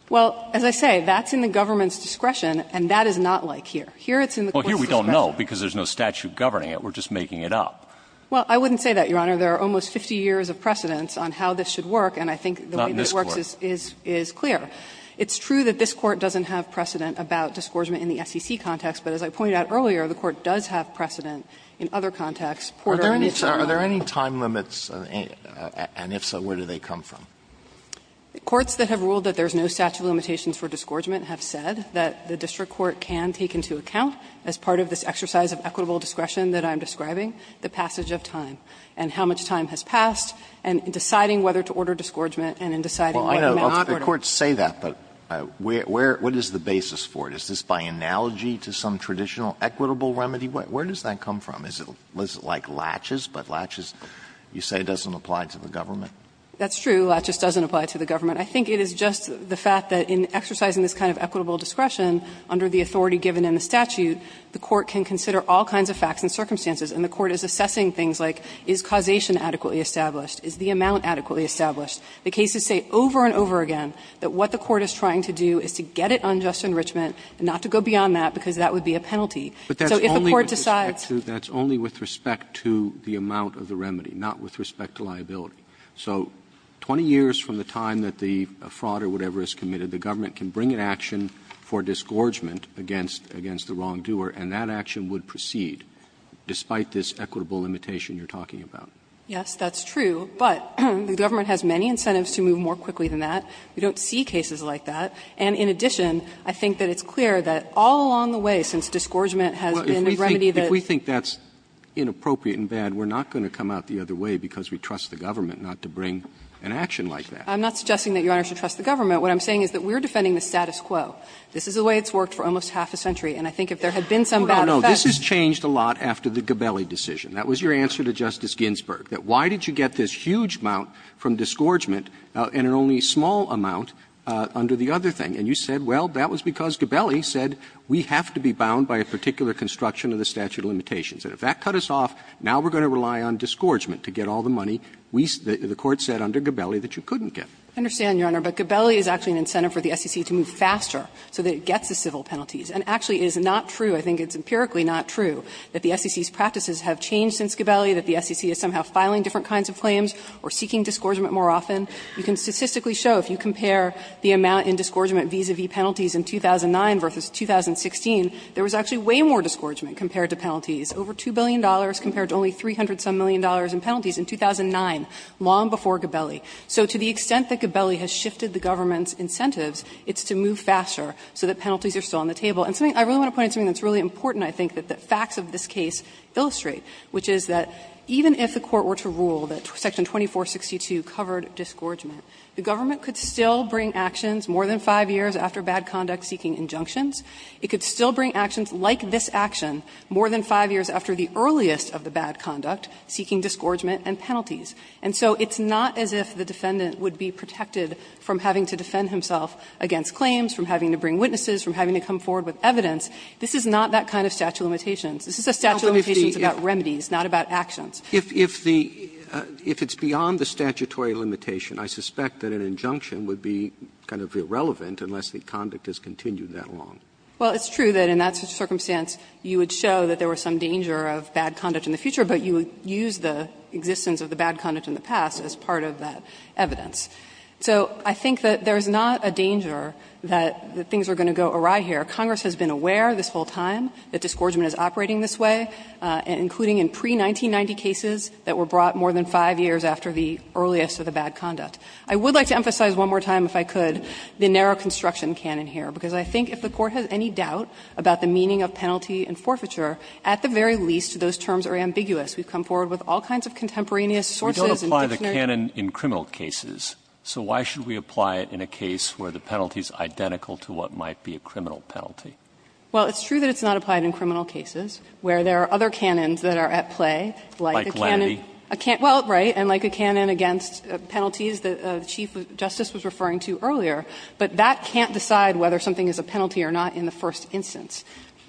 Well, as I say, that's in the government's discretion, and that is not like here. Here it's in the court's discretion. Well, here we don't know, because there's no statute governing it. We're just making it up. Well, I wouldn't say that, Your Honor. There are almost 50 years of precedence on how this should work, and I think the way this works is clear. Not in this Court. It's true that this Court doesn't have precedent about disgorgement in the SEC context, but as I pointed out earlier, the Court does have precedent in other contexts. Alito, are there any time limits, and if so, where do they come from? Courts that have ruled that there's no statute of limitations for disgorgement have said that the district court can take into account, as part of this exercise of equitable discretion that I'm describing, the passage of time and how much time has passed, and in deciding whether to order disgorgement and in deciding whether Alito, the courts say that, but where – what is the basis for it? Is this by analogy to some traditional equitable remedy? Where does that come from? Is it like laches, but laches, you say, doesn't apply to the government? That's true, laches doesn't apply to the government. I think it is just the fact that in exercising this kind of equitable discretion under the authority given in the statute, the court can consider all kinds of facts and circumstances, and the court is assessing things like is causation adequately established, is the amount adequately established. The cases say over and over again that what the court is trying to do is to get it on just enrichment and not to go beyond that, because that would be a penalty. So if the court decides to do that. Roberts, that's only with respect to the amount of the remedy, not with respect to liability. So 20 years from the time that the fraud or whatever is committed, the government can bring an action for disgorgement against the wrongdoer, and that action would proceed, despite this equitable limitation you're talking about. Yes, that's true. But the government has many incentives to move more quickly than that. We don't see cases like that. And in addition, I think that it's clear that all along the way, since disgorgement has been a remedy that's been used. Roberts, if we think that's inappropriate and bad, we're not going to come out the other way because we trust the government not to bring an action like that. I'm not suggesting that Your Honor should trust the government. What I'm saying is that we're defending the status quo. This is the way it's worked for almost half a century, and I think if there had been some bad effect. No, no, this has changed a lot after the Gabelli decision. That was your answer to Justice Ginsburg, that why did you get this huge amount from disgorgement and an only small amount under the other thing? And you said, well, that was because Gabelli said we have to be bound by a particular construction of the statute of limitations. And if that cut us off, now we're going to rely on disgorgement to get all the money we said the Court said under Gabelli that you couldn't get. I understand, Your Honor, but Gabelli is actually an incentive for the SEC to move faster so that it gets the civil penalties. And actually, it is not true, I think it's empirically not true, that the SEC's behavior has changed since Gabelli, that the SEC is somehow filing different kinds of claims or seeking disgorgement more often. You can statistically show, if you compare the amount in disgorgement vis-a-vis penalties in 2009 versus 2016, there was actually way more disgorgement compared to penalties, over $2 billion compared to only $300-some million in penalties in 2009, long before Gabelli. So to the extent that Gabelli has shifted the government's incentives, it's to move faster so that penalties are still on the table. And something that I really want to point out, something that's really important, I think, that the facts of this case illustrate, which is that even if the Court were to rule that Section 2462 covered disgorgement, the government could still bring actions more than 5 years after bad conduct seeking injunctions. It could still bring actions like this action more than 5 years after the earliest of the bad conduct seeking disgorgement and penalties. And so it's not as if the defendant would be protected from having to defend himself against claims, from having to bring witnesses, from having to come forward with evidence. This is not that kind of statute of limitations. This is a statute of limitations about remedies, not about actions. Roberts. Roberts. If the – if it's beyond the statutory limitation, I suspect that an injunction would be kind of irrelevant unless the conduct has continued that long. Well, it's true that in that circumstance you would show that there was some danger of bad conduct in the future, but you would use the existence of the bad conduct in the past as part of that evidence. So I think that there is not a danger that things are going to go awry here. Congress has been aware this whole time that disgorgement is operating this way, including in pre-1990 cases that were brought more than 5 years after the earliest of the bad conduct. I would like to emphasize one more time, if I could, the narrow construction canon here, because I think if the Court has any doubt about the meaning of penalty and forfeiture, at the very least those terms are ambiguous. We've come forward with all kinds of contemporaneous sources and dictionary cases. We don't apply the canon in criminal cases, so why should we apply it in a case where the penalty is identical to what might be a criminal penalty? Well, it's true that it's not applied in criminal cases, where there are other canons that are at play, like a canon. Like Lannity. Well, right, and like a canon against penalties that the Chief Justice was referring to earlier, but that can't decide whether something is a penalty or not in the first instance.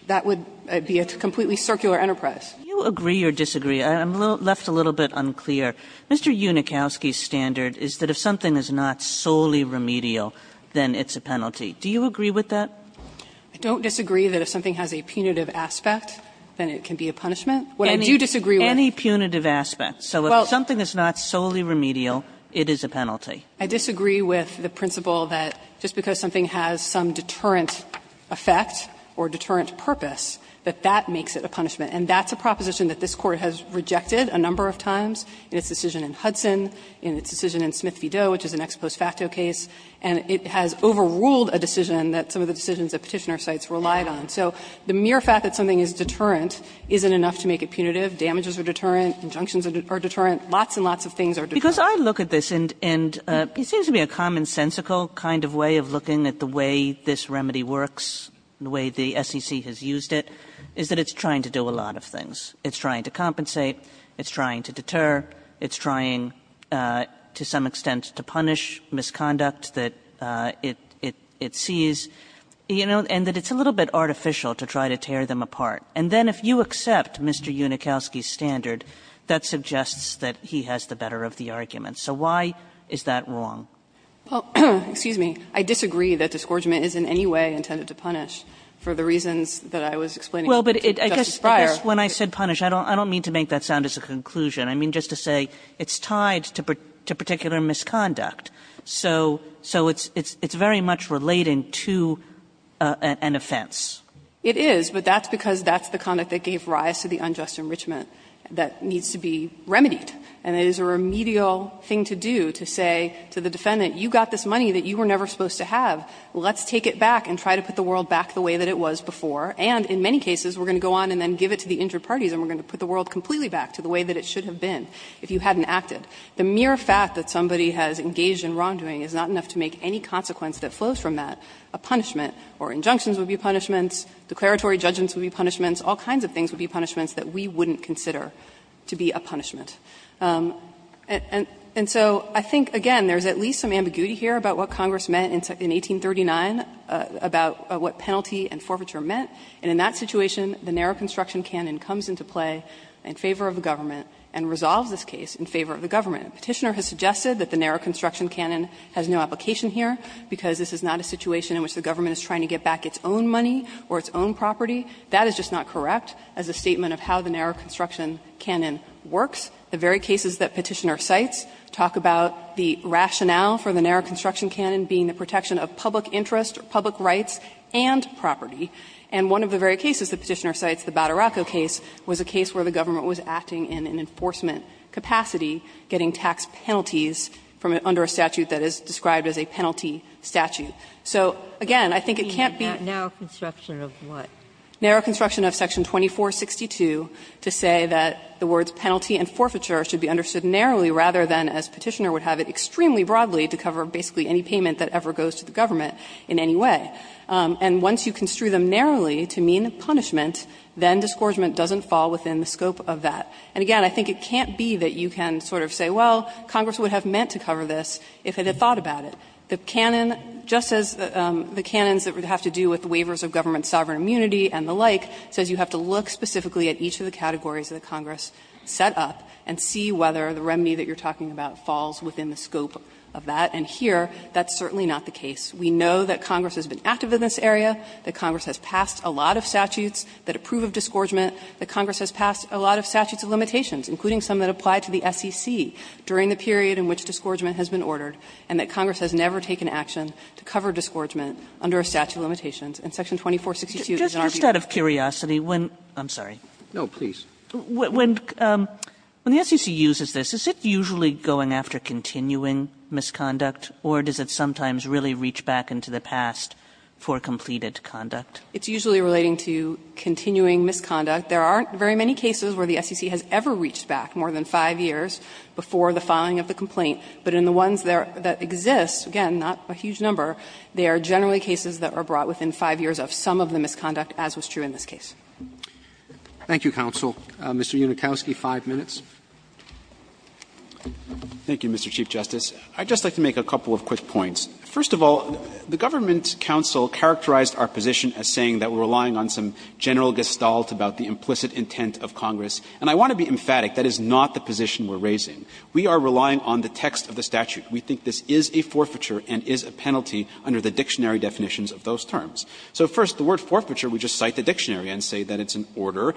That would be a completely circular enterprise. Kagan, do you agree or disagree? I'm left a little bit unclear. Mr. Unikowsky's standard is that if something is not solely remedial, then it's a penalty. Do you agree with that? I don't disagree that if something has a punitive aspect, then it can be a punishment. What I do disagree with any punitive aspect. So if something is not solely remedial, it is a penalty. I disagree with the principle that just because something has some deterrent effect or deterrent purpose, that that makes it a punishment. And that's a proposition that this Court has rejected a number of times in its decision in Hudson, in its decision in Smith v. Doe, which is an ex post facto case, and it has overruled a decision that some of the decisions that Petitioner cites relied on. So the mere fact that something is deterrent isn't enough to make it punitive. Damages are deterrent. Injunctions are deterrent. Lots and lots of things are deterrent. Kagan because I look at this, and it seems to be a commonsensical kind of way of looking at the way this remedy works, the way the SEC has used it, is that it's trying to do a lot of things. It's trying to compensate. It's trying to deter. It's trying to some extent to punish misconduct that it sees. You know, and that it's a little bit artificial to try to tear them apart. And then if you accept Mr. Unikowsky's standard, that suggests that he has the better of the argument. So why is that wrong? Well, excuse me, I disagree that disgorgement is in any way intended to punish for the reasons that I was explaining to Justice Breyer. Kagan Well, but I guess when I said punish, I don't mean to make that sound as a conclusion. I mean just to say it's tied to particular misconduct. So it's very much related to an offense. It is, but that's because that's the conduct that gave rise to the unjust enrichment that needs to be remedied. And it is a remedial thing to do, to say to the defendant, you got this money that you were never supposed to have. Let's take it back and try to put the world back the way that it was before. And in many cases, we're going to go on and then give it to the injured parties and we're going to put the world completely back to the way that it should have been if you hadn't acted. The mere fact that somebody has engaged in wrongdoing is not enough to make any consequence that flows from that a punishment, or injunctions would be punishments, declaratory judgments would be punishments, all kinds of things would be punishments that we wouldn't consider to be a punishment. And so I think, again, there's at least some ambiguity here about what Congress meant in 1839, about what penalty and forfeiture meant. And in that situation, the narrow construction canon comes into play in favor of the government and resolves this case in favor of the government. Petitioner has suggested that the narrow construction canon has no application here, because this is not a situation in which the government is trying to get back its own money or its own property. That is just not correct as a statement of how the narrow construction canon works. The very cases that Petitioner cites talk about the rationale for the narrow construction canon being the protection of public interest, public rights, and property. And one of the very cases that Petitioner cites, the Badaracco case, was a case where the government was acting in an enforcement capacity, getting tax penalties from under a statute that is described as a penalty statute. So, again, I think it can't be the narrow construction of what? And again, I think it can't be that you can sort of say, well, Congress would have meant to cover this if it had thought about it. The canon, just as the canons that would have to do with waivers of government sovereign immunity and the like, says you have to look specifically at each of the categories that Congress set up to determine what the scope of that is. And I think that's a very important point. And I think that's a very important point. And see whether the remedy that you're talking about falls within the scope of that. And here, that's certainly not the case. We know that Congress has been active in this area, that Congress has passed a lot of statutes that approve of disgorgement, that Congress has passed a lot of statutes of limitations, including some that apply to the SEC, during the period in which disgorgement has been ordered, and that Congress has never taken action to cover disgorgement under a statute of limitations. And Section 2462 is an arbitrary case. Kagan. Kagan. When the SEC uses this is it usually going after continuing misconduct, or does it sometimes really reach back into the past for completed conduct? It's usually relating to continuing misconduct. There aren't very many cases where the SEC has ever reached back more than 5 years before the filing of the complaint. But in the ones that exist, again, not a huge number, there are generally cases that are brought within 5 years of some of the misconduct, as was true in this case. Thank you, counsel. Mr. Unikowsky, 5 minutes. Thank you, Mr. Chief Justice. I'd just like to make a couple of quick points. First of all, the government counsel characterized our position as saying that we're relying on some general gestalt about the implicit intent of Congress. And I want to be emphatic, that is not the position we're raising. We are relying on the text of the statute. We think this is a forfeiture and is a penalty under the dictionary definitions of those terms. So first, the word forfeiture, we just cite the dictionary and say that it's an order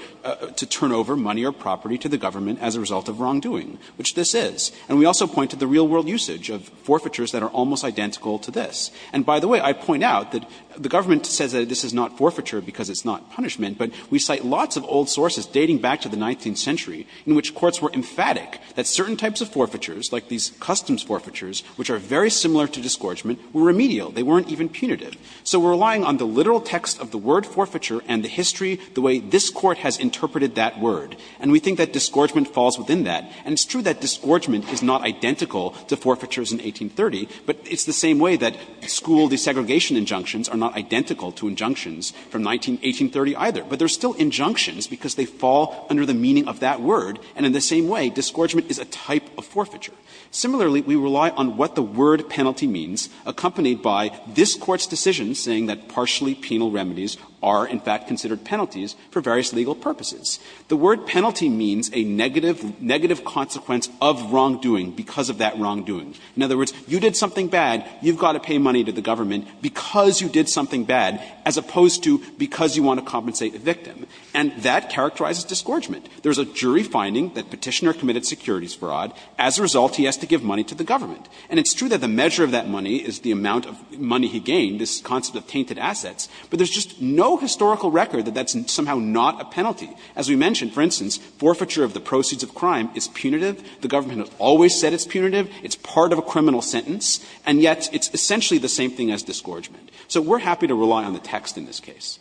to turn over money or property to the government as a result of wrongdoing, which this is. And we also point to the real world usage of forfeitures that are almost identical to this. And by the way, I point out that the government says that this is not forfeiture because it's not punishment, but we cite lots of old sources dating back to the 19th century in which courts were emphatic that certain types of forfeitures, like these customs forfeitures, which are very similar to disgorgement, were remedial. They weren't even punitive. So we're relying on the literal text of the word forfeiture and the history, the way this Court has interpreted that word. And we think that disgorgement falls within that. And it's true that disgorgement is not identical to forfeitures in 1830, but it's the same way that school desegregation injunctions are not identical to injunctions from 1830 either. But they're still injunctions because they fall under the meaning of that word, and in the same way, disgorgement is a type of forfeiture. Similarly, we rely on what the word penalty means, accompanied by this Court's decision saying that partially penal remedies are, in fact, considered penalties for various legal purposes. The word penalty means a negative consequence of wrongdoing because of that wrongdoing. In other words, you did something bad, you've got to pay money to the government because you did something bad, as opposed to because you want to compensate a victim, and that characterizes disgorgement. There's a jury finding that Petitioner committed securities fraud. As a result, he has to give money to the government. And it's true that the measure of that money is the amount of money he gained, this concept of tainted assets, but there's just no historical record that that's somehow not a penalty. As we mentioned, for instance, forfeiture of the proceeds of crime is punitive. The government has always said it's punitive. It's part of a criminal sentence, and yet it's essentially the same thing as disgorgement. So we're happy to rely on the text in this case.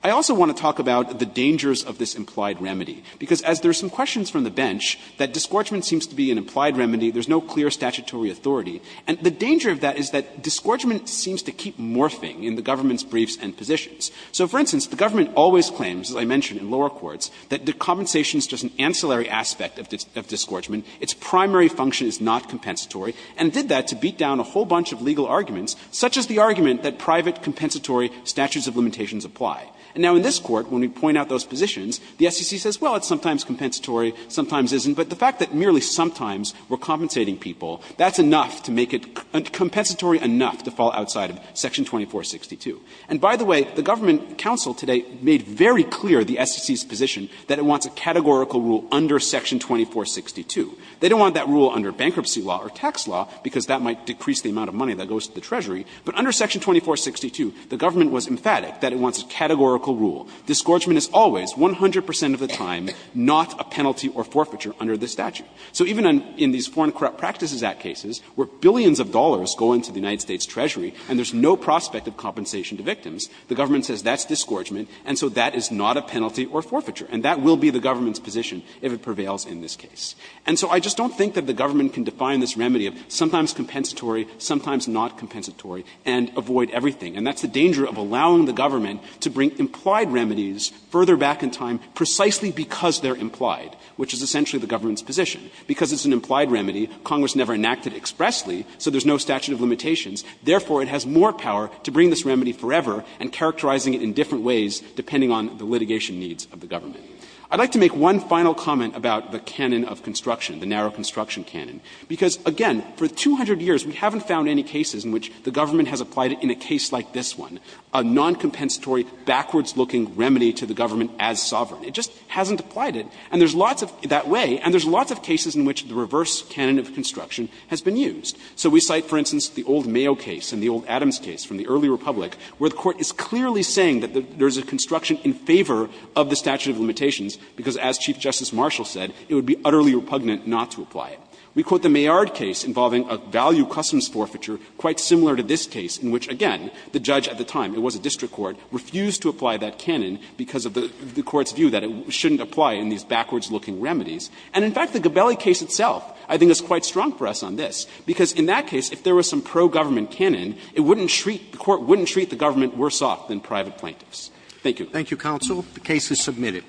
I also want to talk about the dangers of this implied remedy, because as there are some questions from the bench that disgorgement seems to be an implied remedy, there's no clear statutory authority. And the danger of that is that disgorgement seems to keep morphing in the government's briefs and positions. So, for instance, the government always claims, as I mentioned in lower courts, that the compensation is just an ancillary aspect of disgorgement. Its primary function is not compensatory, and did that to beat down a whole bunch of legal arguments, such as the argument that private compensatory statutes of limitations apply. And now in this Court, when we point out those positions, the SEC says, well, it's sometimes compensatory, sometimes isn't. But the fact that merely sometimes we're compensating people, that's enough to make it compensatory enough to fall outside of Section 2462. And by the way, the government counsel today made very clear the SEC's position that it wants a categorical rule under Section 2462. They don't want that rule under bankruptcy law or tax law, because that might decrease the amount of money that goes to the Treasury. But under Section 2462, the government was emphatic that it wants a categorical rule. Disgorgement is always, 100 percent of the time, not a penalty or forfeiture under the statute. So even in these Foreign Corrupt Practices Act cases, where billions of dollars go into the United States Treasury and there's no prospect of compensation to victims, the government says that's disgorgement, and so that is not a penalty or forfeiture. And that will be the government's position if it prevails in this case. And so I just don't think that the government can define this remedy of sometimes compensatory, sometimes not compensatory, and avoid everything. And that's the danger of allowing the government to bring implied remedies further back in time precisely because they're implied, which is essentially the government's position. Because it's an implied remedy, Congress never enacted expressly, so there's no statute of limitations. Therefore, it has more power to bring this remedy forever and characterizing it in different ways depending on the litigation needs of the government. I'd like to make one final comment about the canon of construction, the narrow construction canon, because, again, for 200 years, we haven't found any cases in which the government has applied it in a case like this one, a noncompensatory, backwards-looking remedy to the government as sovereign. It just hasn't applied it, and there's lots of that way, and there's lots of cases in which the reverse canon of construction has been used. So we cite, for instance, the old Mayo case and the old Adams case from the early Republic, where the Court is clearly saying that there's a construction in favor of the statute of limitations because, as Chief Justice Marshall said, it would be utterly repugnant not to apply it. We quote the Maillard case involving a value customs forfeiture quite similar to this case in which, again, the judge at the time, it was a district court, refused to apply that canon because of the Court's view that it shouldn't apply in these backwards-looking remedies. And, in fact, the Gabelli case itself, I think, is quite strong for us on this, because in that case, if there was some pro-government canon, it wouldn't treat the Court wouldn't treat the government worse off than private plaintiffs. Thank you. Roberts, Thank you, counsel. The case is submitted.